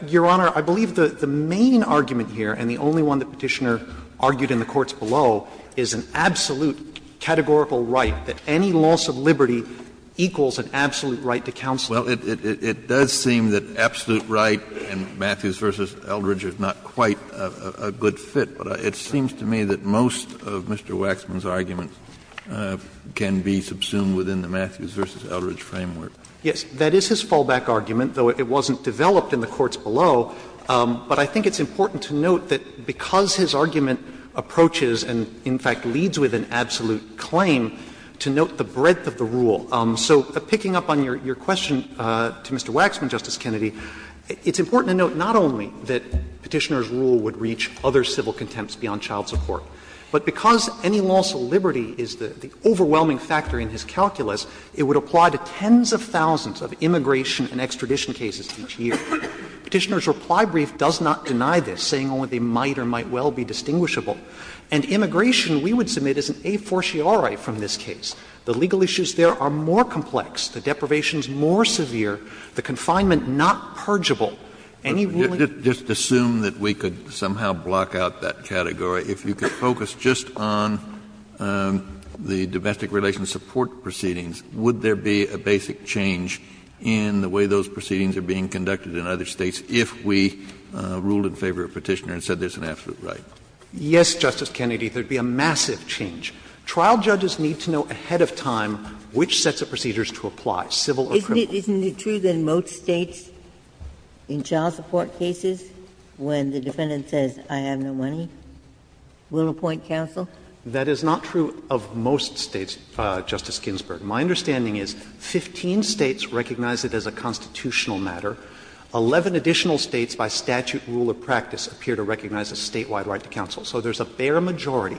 Your Honor, I believe the main argument here, and the only one that Petitioner argued in the courts below, is an absolute categorical right that any loss of liberty equals an absolute right to counsel. Well, it does seem that absolute right and Matthews v. Eldridge are not quite a good fit, but it seems to me that most of Mr. Waxman's arguments can be subsumed within the Matthews v. Eldridge framework. Yes. That is his fallback argument, though it wasn't developed in the courts below. But I think it's important to note that because his argument approaches and, in fact, leads with an absolute claim, to note the breadth of the rule. So picking up on your question to Mr. Waxman, Justice Kennedy, it's important to note not only that Petitioner's rule would reach other civil contempts beyond child support, but because any loss of liberty is the overwhelming factor in his calculus, it would apply to tens of thousands of immigration and extradition cases each year. Petitioner's reply brief does not deny this, saying only they might or might well be distinguishable. And immigration, we would submit, is an a fortiori from this case. The legal issues there are more complex. The deprivation is more severe. The confinement not purgeable. Any woman — Justice Kennedy, if we were to focus just on the domestic relations support proceedings, would there be a basic change in the way those proceedings are being conducted in other states if we ruled in favor of Petitioner and said there's an absolute right? Yes, Justice Kennedy. There would be a massive change. Trial judges need to know ahead of time which sets of procedures to apply, civil or criminal. Isn't it true that most states in child support cases, when the defendant says I have no money, will appoint counsel? That is not true of most states, Justice Ginsburg. My understanding is 15 states recognize it as a constitutional matter. Eleven additional states by statute rule of practice appear to recognize a statewide right to counsel. So there's a bare majority.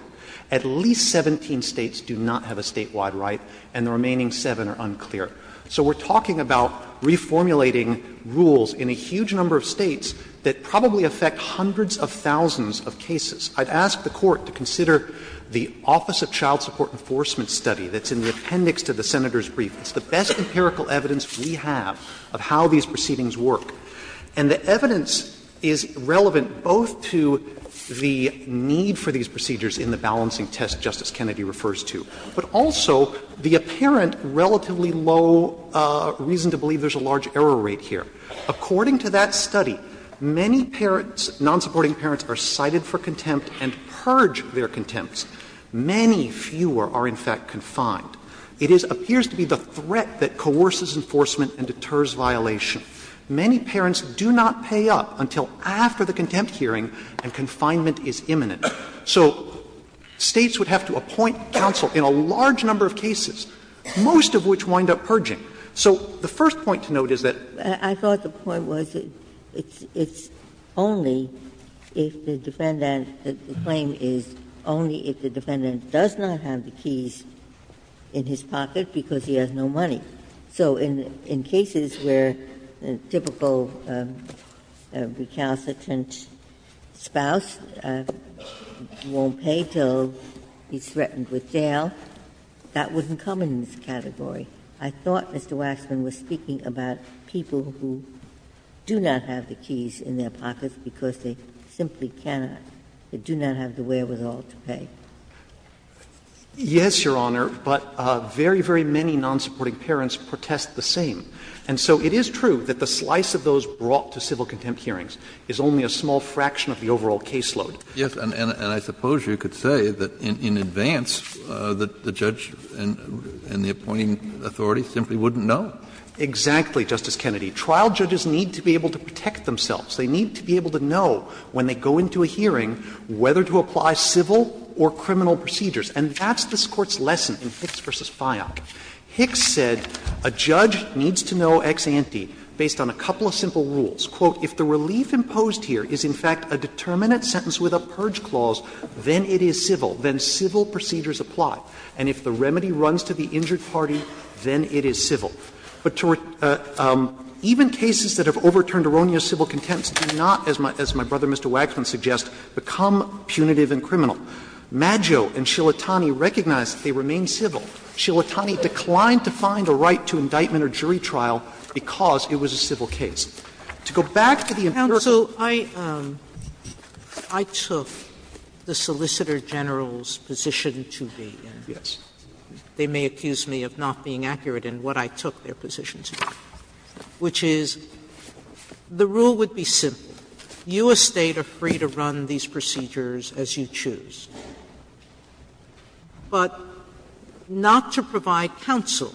At least 17 states do not have a statewide right, and the remaining seven are unclear. So we're talking about reformulating rules in a huge number of states that probably affect hundreds of thousands of cases. I'd ask the Court to consider the Office of Child Support Enforcement study that's in the appendix to the senator's brief. It's the best empirical evidence we have of how these proceedings work. And the evidence is relevant both to the need for these procedures in the balancing test Justice Kennedy refers to, but also the apparent relatively low reason to believe there's a large error rate here. According to that study, many parents, non-supporting parents, are cited for contempt and purge their contempts. Many fewer are, in fact, confined. It appears to be the threat that coerces enforcement and deters violation. Many parents do not pay up until after the contempt hearing, and confinement is imminent. So states would have to appoint counsel in a large number of cases, most of which wind up purging. So the first point to note is that I thought the point was it's only if the defendant's claim is only if the defendant does not have the keys in his pocket because he has no money. So in cases where a typical recalcitrant spouse won't pay until he's threatened with jail, that wouldn't come in this category. I thought Mr. Waxman was speaking about people who do not have the keys in their pockets because they simply cannot. They do not have the wherewithal to pay. Yes, Your Honor, but very, very many non-supporting parents protest the same. And so it is true that the slice of those brought to civil contempt hearings is only a small fraction of the overall caseload. Yes, and I suppose you could say that in advance that the judge and the appointing authority simply wouldn't know. Exactly, Justice Kennedy. Trial judges need to be able to protect themselves. They need to be able to know when they go into a hearing whether to apply civil or criminal procedures. And that's this Court's lesson in Hicks v. Fyock. Hicks said a judge needs to know ex ante based on a couple of simple rules. Quote, if the relief imposed here is, in fact, a determinate sentence with a purge clause, then it is civil. Then civil procedures apply. And if the remedy runs to the injured party, then it is civil. But even cases that have overturned erroneous civil contempt do not, as my brother Mr. Waxman suggests, become punitive and criminal. Maggio and Shillitani recognize that they remain civil. Shillitani declined to find a right to indictment or jury trial because it was a civil case. To go back to your question. Counsel, I took the Solicitor General's position to be. Yes. They may accuse me of not being accurate in what I took their positions to be, which is the rule would be simple. You as State are free to run these procedures as you choose. But not to provide counsel,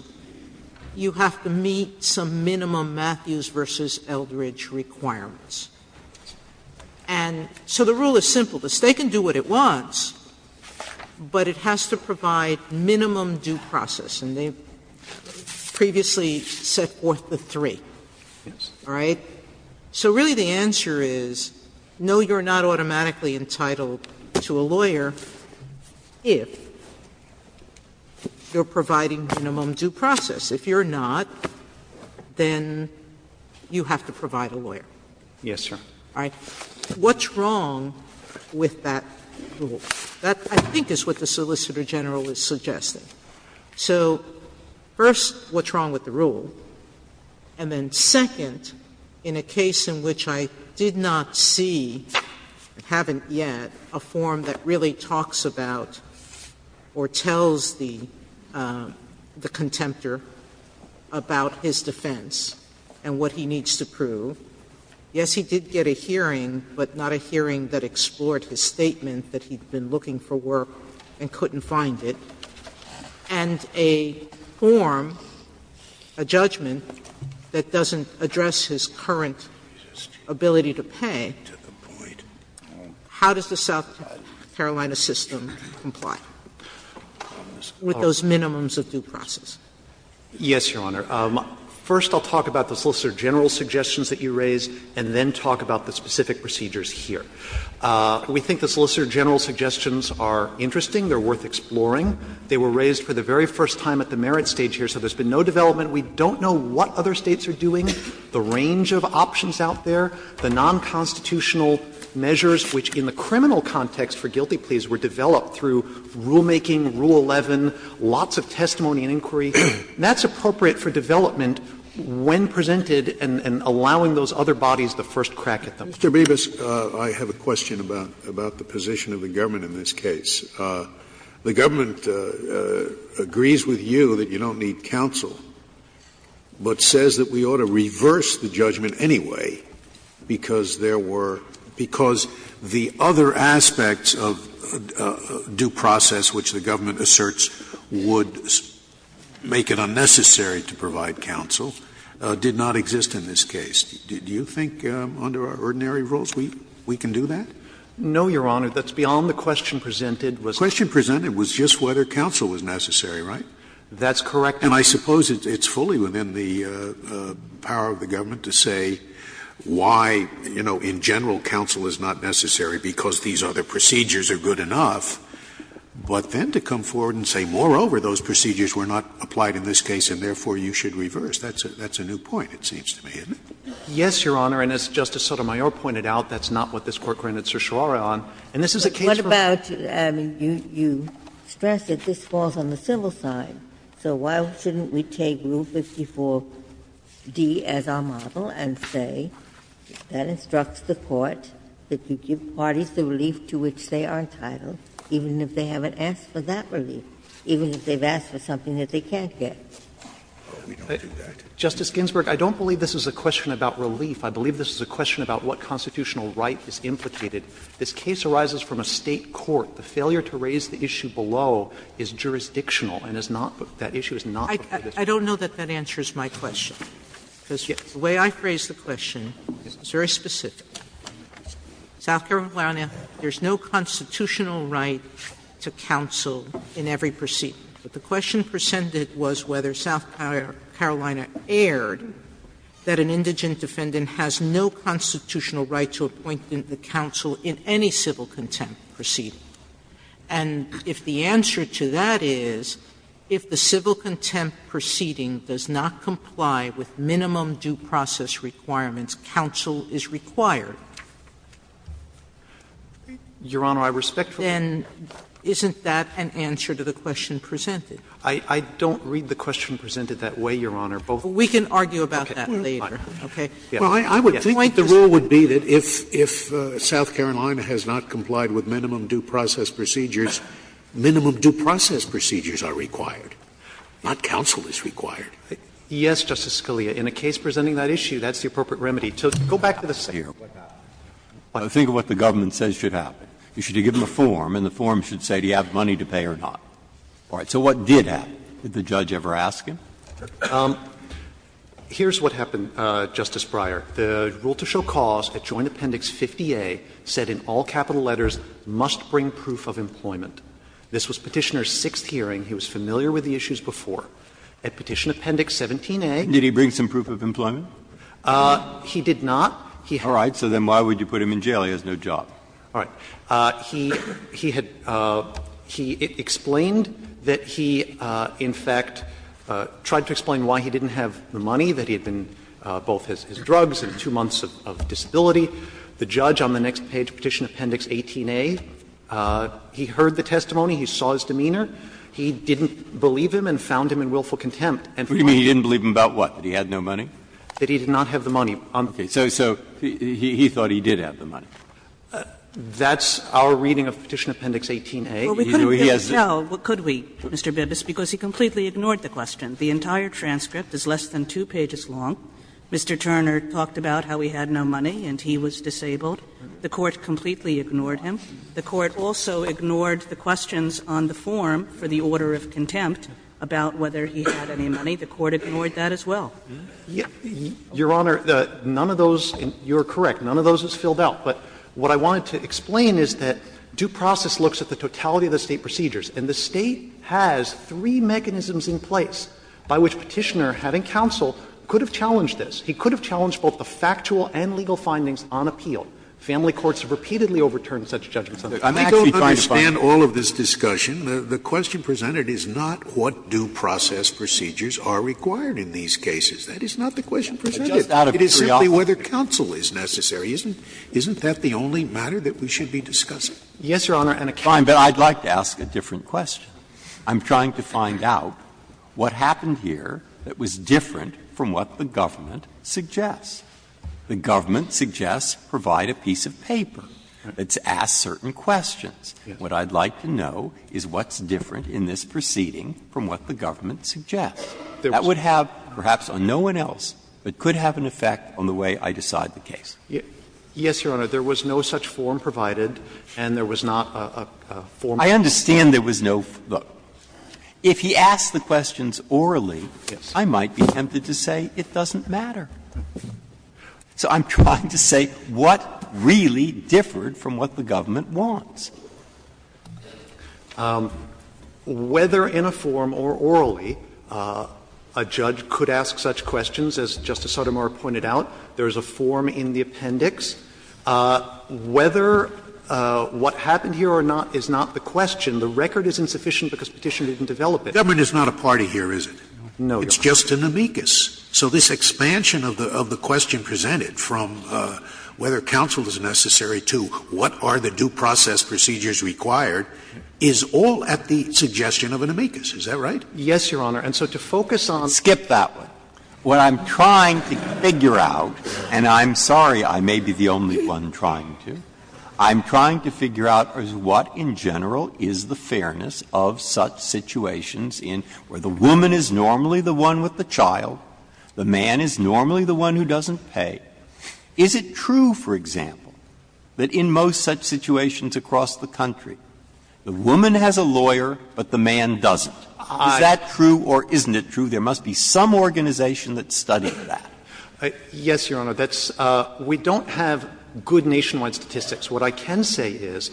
you have to meet some minimum Matthews versus Eldridge requirements. And so the rule is simple. The State can do what it wants, but it has to provide minimum due process. And they've previously set forth the three. All right? So really the answer is, no, you're not automatically entitled to a lawyer. If you're providing minimum due process. If you're not, then you have to provide a lawyer. Yes, Your Honor. All right? What's wrong with that rule? That I think is what the Solicitor General is suggesting. So first, what's wrong with the rule? And then second, in a case in which I did not see, haven't yet, a form that really talks about or tells the contemptor about his defense and what he needs to prove. Yes, he did get a hearing, but not a hearing that explored his statement that he'd been looking for work and couldn't find it. And a form, a judgment, that doesn't address his current ability to pay, how does the Carolina system comply with those minimums of due process? Yes, Your Honor. First, I'll talk about the Solicitor General's suggestions that you raised, and then talk about the specific procedures here. We think the Solicitor General's suggestions are interesting. They're worth exploring. They were raised for the very first time at the merit stage here. So there's been no development. We don't know what other States are doing. The range of options out there, the nonconstitutional measures, which in the criminal context for guilty pleas were developed through rulemaking, Rule 11, lots of testimony and inquiry. That's appropriate for development when presented and allowing those other bodies the first crack at them. Mr. Bevis, I have a question about the position of the government in this case. The government agrees with you that you don't need counsel, but says that we ought to The aspects of due process which the government asserts would make it unnecessary to provide counsel did not exist in this case. Do you think under our ordinary rules we can do that? No, Your Honor. That's beyond the question presented. The question presented was just whether counsel was necessary, right? That's correct. And I suppose it's fully within the power of the government to say why, you know, in this case the procedures are good enough, but then to come forward and say, moreover, those procedures were not applied in this case and therefore you should reverse. That's a new point, it seems to me, isn't it? Yes, Your Honor. And as Justice Sotomayor pointed out, that's not what this Court granted certiorari on. And this is a case for What about you stress that this falls on the civil side. So why shouldn't we take Rule 54d as our model and say that instructs the Court that if you give parties the relief to which they are entitled, even if they haven't asked for that relief, even if they've asked for something that they can't get? Justice Ginsburg, I don't believe this is a question about relief. I believe this is a question about what constitutional right is implicated. This case arises from a State court. The failure to raise the issue below is jurisdictional and is not the – that issue is not the jurisdiction. I don't know that that answers my question. The way I phrase the question is very specific. South Carolina, there's no constitutional right to counsel in every proceeding. But the question presented was whether South Carolina erred that an indigent defendant has no constitutional right to appoint the counsel in any civil contempt proceeding. And if the answer to that is if the civil contempt proceeding does not comply with minimum due process requirements, counsel is required. Your Honor, I respect that. Then isn't that an answer to the question presented? I don't read the question presented that way, Your Honor. But we can argue about that later. Okay. Well, I would think the rule would be that if South Carolina has not complied with minimum due process procedures, minimum due process procedures are required, not counsel is required. Yes, Justice Scalia. In a case presenting that issue, that's the appropriate remedy. So go back to the State court right now. Think of what the government says should happen. You should give them a form, and the form should say do you have money to pay or not. All right. So what did happen? Did the judge ever ask him? Here's what happened, Justice Breyer. The rule to show cause at Joint Appendix 50A said in all capital letters must bring proof of employment. This was Petitioner's sixth hearing. He was familiar with the issues before. At Petition Appendix 17A he did not. All right. So then why would you put him in jail? He has no job. All right. He explained that he, in fact, tried to explain why he didn't have the money, that he had been, both his drugs and two months of disability. The judge on the next page, Petition Appendix 18A, he heard the testimony. He saw his demeanor. He didn't believe him and found him in willful contempt. You mean he didn't believe him about what? That he had no money? That he did not have the money. Okay. So he thought he did have the money. That's our reading of Petition Appendix 18A. Well, we couldn't tell, could we, Mr. Bibas, because he completely ignored the question. The entire transcript is less than two pages long. Mr. Turner talked about how he had no money and he was disabled. The court completely ignored him. The court also ignored the questions on the form for the order of contempt about whether he had any money. The court ignored that as well. Your Honor, none of those, you're correct, none of those is filled out. But what I wanted to explain is that due process looks at the totality of the State procedures. And the State has three mechanisms in place by which Petitioner, having counsel, could have challenged this. He could have challenged both the factual and legal findings on appeal. Family courts have repeatedly overturned such judgments. I'm actually trying to find them. I don't understand all of this discussion. The question presented is not what due process procedures are required in these cases. That is not the question presented. It is simply whether counsel is necessary. Isn't that the only matter that we should be discussing? Yes, Your Honor. Fine, but I'd like to ask a different question. I'm trying to find out what happened here that was different from what the government suggests. The government suggests provide a piece of paper to ask certain questions. What I'd like to know is what's different in this proceeding from what the government suggests. That would have, perhaps on no one else, it could have an effect on the way I decide the case. Yes, Your Honor. There was no such form provided, and there was not a form. I understand there was no form. If he asked the questions orally, I might be tempted to say it doesn't matter. So I'm trying to say what really differed from what the government wants. Whether in a form or orally, a judge could ask such questions, as Justice Sotomayor pointed out, there is a form in the appendix. Whether what happened here or not is not the question. The record is insufficient because Petitioner didn't develop it. The government is not a party here, is it? No, Your Honor. It's just an amicus. So this expansion of the question presented from whether counsel is necessary to what are the due process procedures required is all at the suggestion of an amicus. Is that right? Yes, Your Honor. And so to focus on — Skip that one. What I'm trying to figure out — and I'm sorry I may be the only one trying to — I'm trying to figure out is what in general is the fairness of such situations in — where the woman is normally the one with the child, the man is normally the one who doesn't pay. Is it true, for example, that in most such situations across the country, the woman has a lawyer but the man doesn't? Is that true or isn't it true? There must be some organization that's studying that. Yes, Your Honor. That's — we don't have good nationwide statistics. What I can say is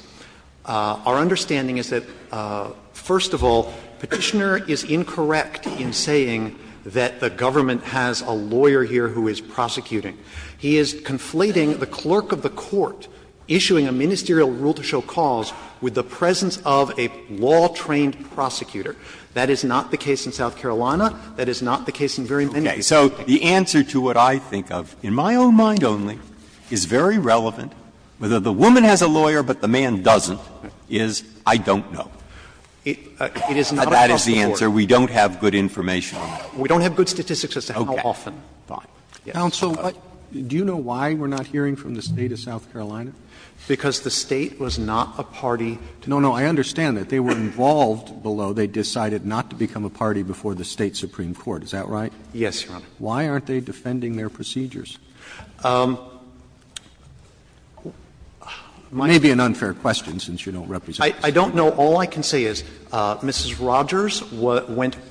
our understanding is that, first of all, Petitioner is incorrect in saying that the government has a lawyer here who is prosecuting. He is conflating the clerk of the court issuing a ministerial rule to show cause with the presence of a law-trained prosecutor. That is not the case in South Carolina. That is not the case in very many — Okay. So the answer to what I think of, in my own mind only, is very relevant, whether the woman has a lawyer but the man doesn't, is I don't know. It is not across the board. That is the answer. We don't have good information. We don't have good statistics as to how often. Okay. Counsel, do you know why we're not hearing from the State of South Carolina? Because the State was not a party to — The State decided not to become a party before the State Supreme Court. Is that right? Yes, Your Honor. Why aren't they defending their procedures? It may be an unfair question since you don't represent — I don't know. All I can say is Mrs. Rogers went —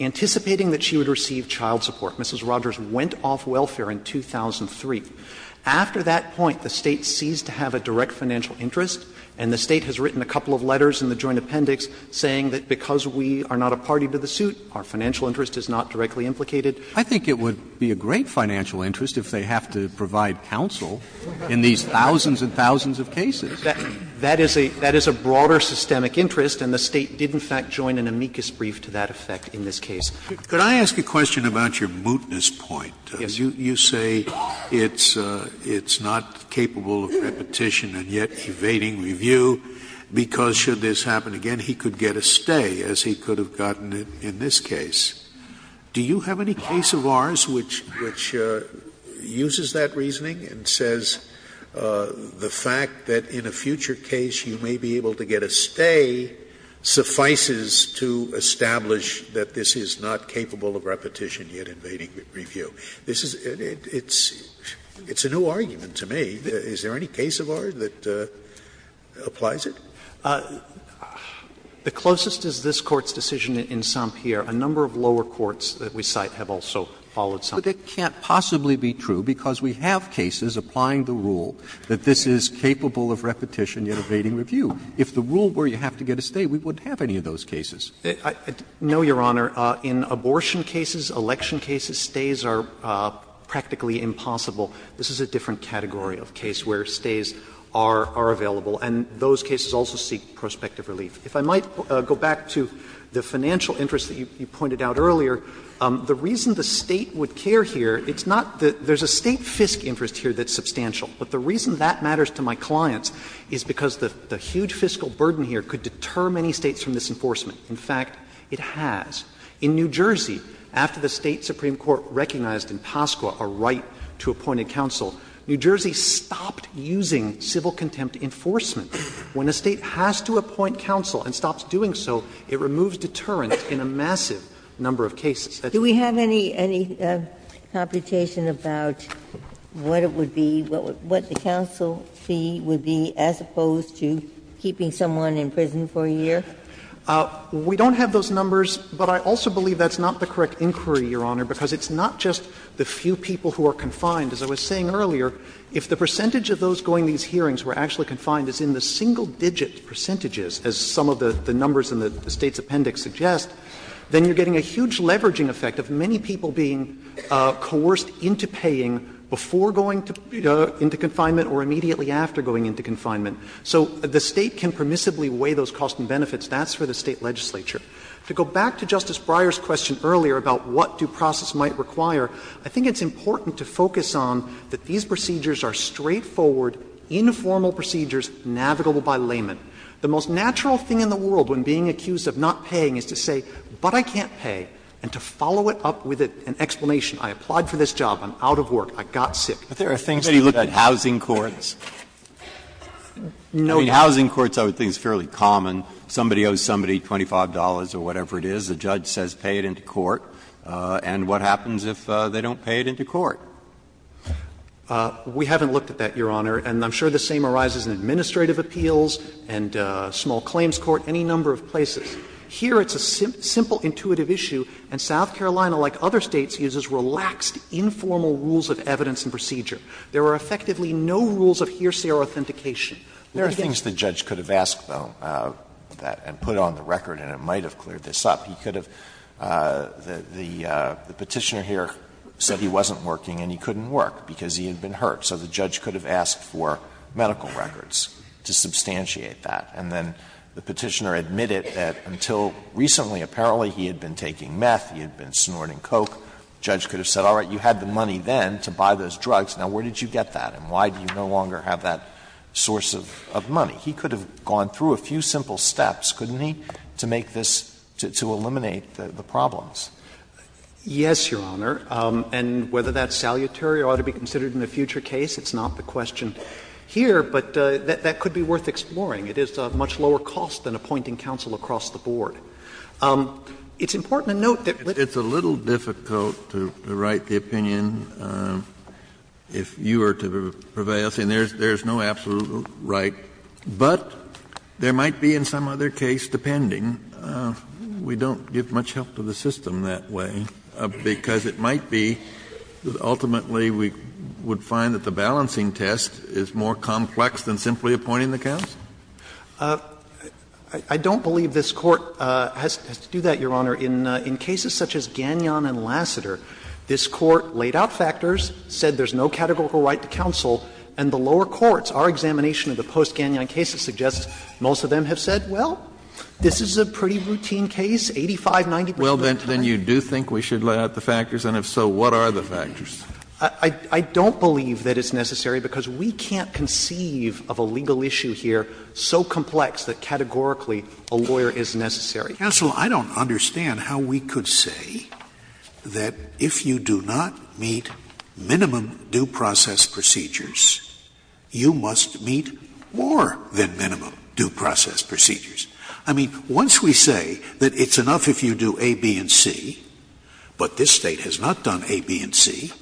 anticipating that she would receive child support, Mrs. Rogers went off welfare in 2003. The State has written a couple of letters in the joint appendix saying that because we are not a party to the suit, our financial interest is not directly implicated. I think it would be a great financial interest if they have to provide counsel in these thousands and thousands of cases. That is a broader systemic interest, and the State did in fact join an amicus brief to that effect in this case. Could I ask a question about your mootness point? Yes. You say it's not capable of repetition and yet evading review, because should this happen again he could get a stay, as he could have gotten in this case. Do you have any case of ours which uses that reasoning and says the fact that in a future case you may be able to get a stay suffices to establish that this is not capable of repetition yet evading review? It's a new argument to me. Is there any case of ours that applies it? The closest is this Court's decision in St. Pierre. A number of lower courts that we cite have also followed. But it can't possibly be true, because we have cases applying the rule that this is capable of repetition yet evading review. If the rule were you have to get a stay, we wouldn't have any of those cases. No, Your Honor. In abortion cases, election cases, stays are practically impossible. This is a different category of case where stays are available. And those cases also seek prospective relief. If I might go back to the financial interest that you pointed out earlier, the reason the State would care here, it's not that there's a State FISC interest here that's substantial. But the reason that matters to my clients is because the huge fiscal burden here could deter many States from this enforcement. In fact, it has. In New Jersey, after the State Supreme Court recognized in Pasqua a right to appoint a counsel, New Jersey stopped using civil contempt enforcement. When a State has to appoint counsel and stops doing so, it removes deterrence in a massive number of cases. Do we have any computation about what it would be, what the counsel fee would be as opposed to keeping someone in prison for a year? We don't have those numbers, but I also believe that's not the correct inquiry, Your Honor, because it's not just the few people who are confined. As I was saying earlier, if the percentage of those going to these hearings who are actually confined is in the single-digit percentages, as some of the numbers in the State's appendix suggest, then you're getting a huge leveraging effect of many people being coerced into paying before going into confinement or immediately after going into confinement. So the State can permissibly weigh those costs and benefits. That's for the State legislature. To go back to Justice Breyer's question earlier about what due process might require, I think it's important to focus on that these procedures are straightforward, informal procedures navigable by layman. The most natural thing in the world when being accused of not paying is to say, but I can't pay, and to follow it up with an explanation. I applied for this job. I'm out of work. I got sick. But there are things about housing courts. I mean, housing courts are things fairly common. Somebody owes somebody $25 or whatever it is. The judge says pay it into court. And what happens if they don't pay it into court? We haven't looked at that, Your Honor. And I'm sure the same arises in administrative appeals and small claims court, any number of places. Here it's a simple intuitive issue, and South Carolina, like other States, uses relaxed, informal rules of evidence and procedure. There are effectively no rules of hearsay or authentication. There again — There are things the judge could have asked, though, and put on the record, and it might have cleared this up. He could have — the Petitioner here said he wasn't working and he couldn't work because he had been hurt. So the judge could have asked for medical records to substantiate that. And then the Petitioner admitted that until recently, apparently, he had been taking meth, he had been snorting Coke. The judge could have said, all right, you had the money then to buy those drugs. Now, where did you get that, and why do you no longer have that source of money? He could have gone through a few simple steps, couldn't he, to make this — to eliminate the problems? Yes, Your Honor. And whether that's salutary or ought to be considered in a future case, it's not the question here, but that could be worth exploring. It is a much lower cost than appointing counsel across the board. It's important to note that — It's a little difficult to write the opinion if you were to prevail. See, there's no absolute right. But there might be in some other case, depending. We don't give much help to the system that way because it might be that ultimately we would find that the balancing test is more complex than simply appointing the counsel. I don't believe this Court has to do that, Your Honor. In cases such as Gagnon and Lassiter, this Court laid out factors, said there's no categorical right to counsel, and the lower courts, our examination of the post-Gagnon cases suggests most of them have said, well, this is a pretty routine case, 85, 90 percent of the time. Well, then you do think we should lay out the factors? And if so, what are the factors? I don't believe that it's necessary because we can't conceive of a legal issue here so complex that categorically a lawyer is necessary. Counsel, I don't understand how we could say that if you do not meet minimum due process procedures, you must meet more than minimum due process procedures. I mean, once we say that it's enough if you do A, B, and C, but this State has not done A, B, and C,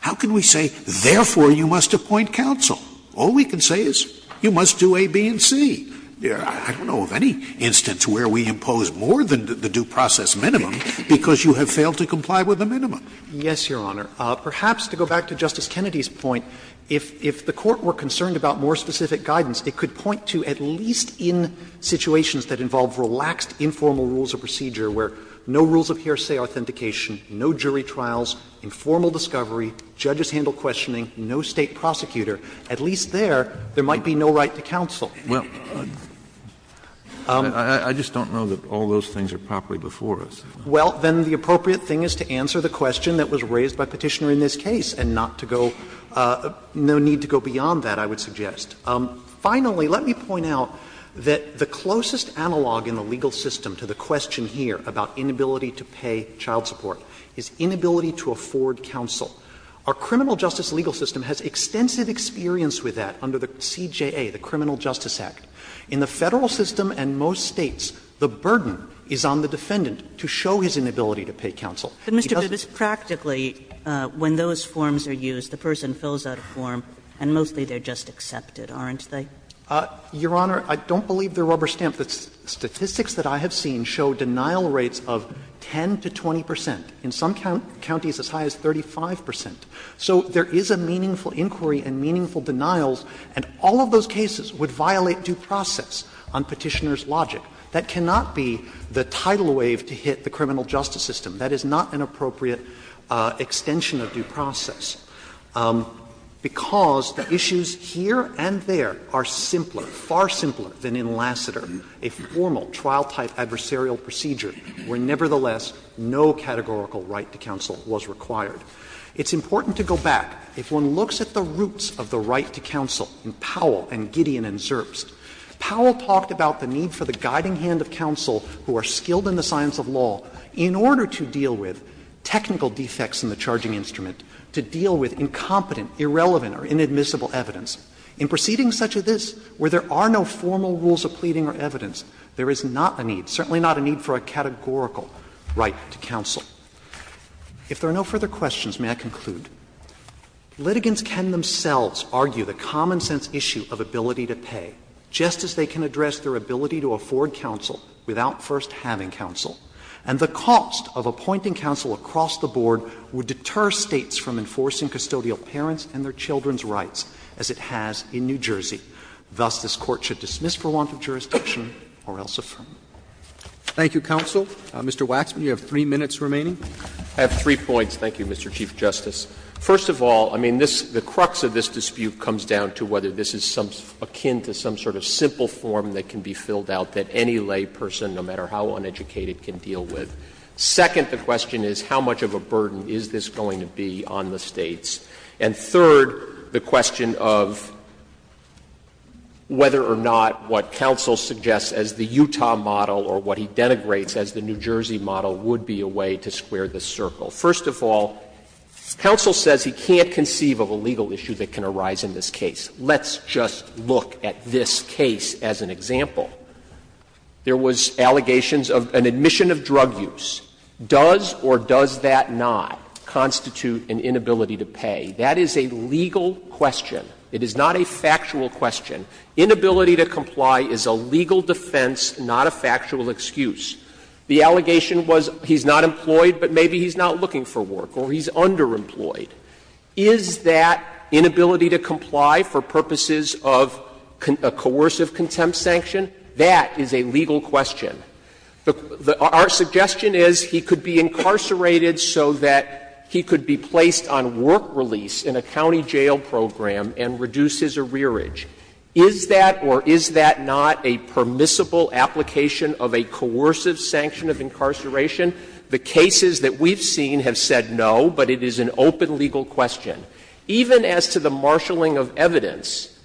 how can we say, therefore, you must appoint counsel? All we can say is you must do A, B, and C. I don't know of any instance where we impose more than the due process minimum because you have failed to comply with the minimum. Yes, Your Honor. Perhaps to go back to Justice Kennedy's point, if the Court were concerned about more specific guidance, it could point to at least in situations that involve relaxed informal rules of procedure where no rules of hearsay authentication, no jury trials, informal discovery, judges handle questioning, no State prosecutor, at least there, there might be no right to counsel. Well, I just don't know that all those things are properly before us. Well, then the appropriate thing is to answer the question that was raised by Petitioner in this case and not to go — no need to go beyond that, I would suggest. Finally, let me point out that the closest analog in the legal system to the question here about inability to pay child support is inability to afford counsel. Our criminal justice legal system has extensive experience with that under the CJA, the Criminal Justice Act. In the Federal system and most States, the burden is on the defendant to show his inability to pay counsel. But, Mr. Judge, practically when those forms are used, the person fills out a form and mostly they're just accepted, aren't they? Your Honor, I don't believe they're rubber-stamped. The statistics that I have seen show denial rates of 10 to 20 percent. In some counties, as high as 35 percent. So there is a meaningful inquiry and meaningful denials, and all of those cases would violate due process on Petitioner's logic. That cannot be the tidal wave to hit the criminal justice system. That is not an appropriate extension of due process, because the issues here and there are simpler, far simpler than in Lassiter, a formal trial-type adversarial procedure where, nevertheless, no categorical right to counsel was required. It's important to go back. If one looks at the roots of the right to counsel in Powell and Gideon and Zerbst, Powell talked about the need for the guiding hand of counsel who are skilled in the science of law in order to deal with technical defects in the charging instrument, to deal with incompetent, irrelevant, or inadmissible evidence. In proceedings such as this, where there are no formal rules of pleading or evidence, there is not a need, certainly not a need for a categorical right to counsel. If there are no further questions, may I conclude? Litigants can themselves argue the common-sense issue of ability to pay, just as they can address their ability to afford counsel without first having counsel. And the cost of appointing counsel across the board would deter States from enforcing custodial parents and their children's rights, as it has in New Jersey. Thus, this Court should dismiss for want of jurisdiction or else affirm. Thank you, counsel. Mr. Waxman, you have three minutes remaining. I have three points. Thank you, Mr. Chief Justice. First of all, I mean, this — the crux of this dispute comes down to whether this is akin to some sort of simple form that can be filled out that any lay person, no matter how uneducated, can deal with. Second, the question is, how much of a burden is this going to be on the States? And third, the question of whether or not what counsel suggests as the Utah model or what he denigrates as the New Jersey model would be a way to square the circle. First of all, counsel says he can't conceive of a legal issue that can arise in this case. Let's just look at this case as an example. There was allegations of an admission of drug use. Does or does that not constitute an inability to pay? That is a legal question. It is not a factual question. Inability to comply is a legal defense, not a factual excuse. The allegation was he's not employed, but maybe he's not looking for work, or he's underemployed. Is that inability to comply for purposes of a coercive contempt sanction? That is a legal question. Our suggestion is he could be incarcerated so that he could be placed on work release in a county jail program and reduce his arrearage. Is that or is that not a permissible application of a coercive sanction of incarceration? The cases that we've seen have said no, but it is an open legal question. Even as to the marshalling of evidence,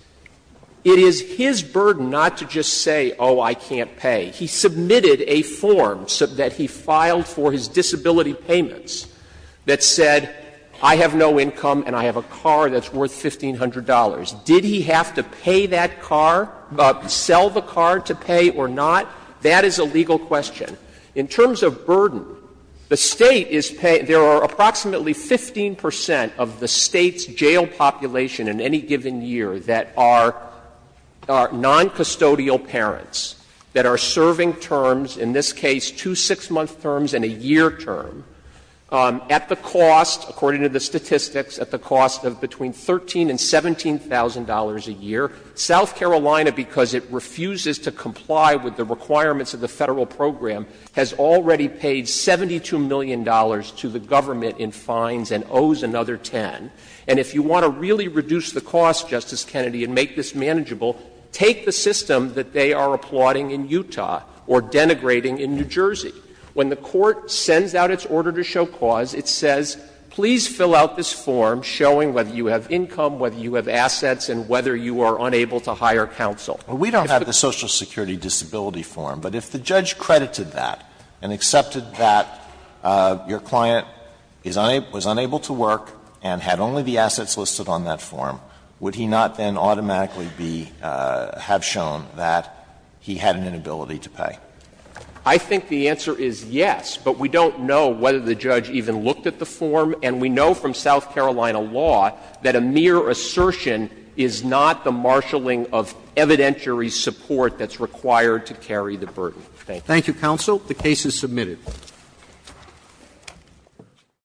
it is his burden not to just say, oh, I can't pay. He submitted a form that he filed for his disability payments that said, I have no income and I have a car that's worth $1,500. Did he have to pay that car, sell the car to pay or not? That is a legal question. In terms of burden, the state is paying — there are approximately 15 percent of the state's jail population in any given year that are noncustodial parents that are serving terms, in this case two six-month terms and a year term, at the cost, according to the statistics, at the cost of between $13,000 and $17,000 a year. South Carolina, because it refuses to comply with the requirements of the federal program, has already paid $72 million to the government in fines and owes another 10. And if you want to really reduce the cost, Justice Kennedy, and make this manageable, take the system that they are applauding in Utah or denigrating in New Jersey. When the court sends out its order to show cause, it says, please fill out this form showing whether you have income, whether you have assets, and whether you are unable to hire counsel. Well, we don't have the Social Security disability form, but if the judge credited that and accepted that your client was unable to work and had only the assets listed on that form, would he not then automatically have shown that he had an inability to pay? I think the answer is yes, but we don't know whether the judge even looked at the form. And we know from South Carolina law that a mere assertion is not the marshalling of evidentiary support that's required to carry the burden. Thank you. Thank you, counsel. The case is submitted.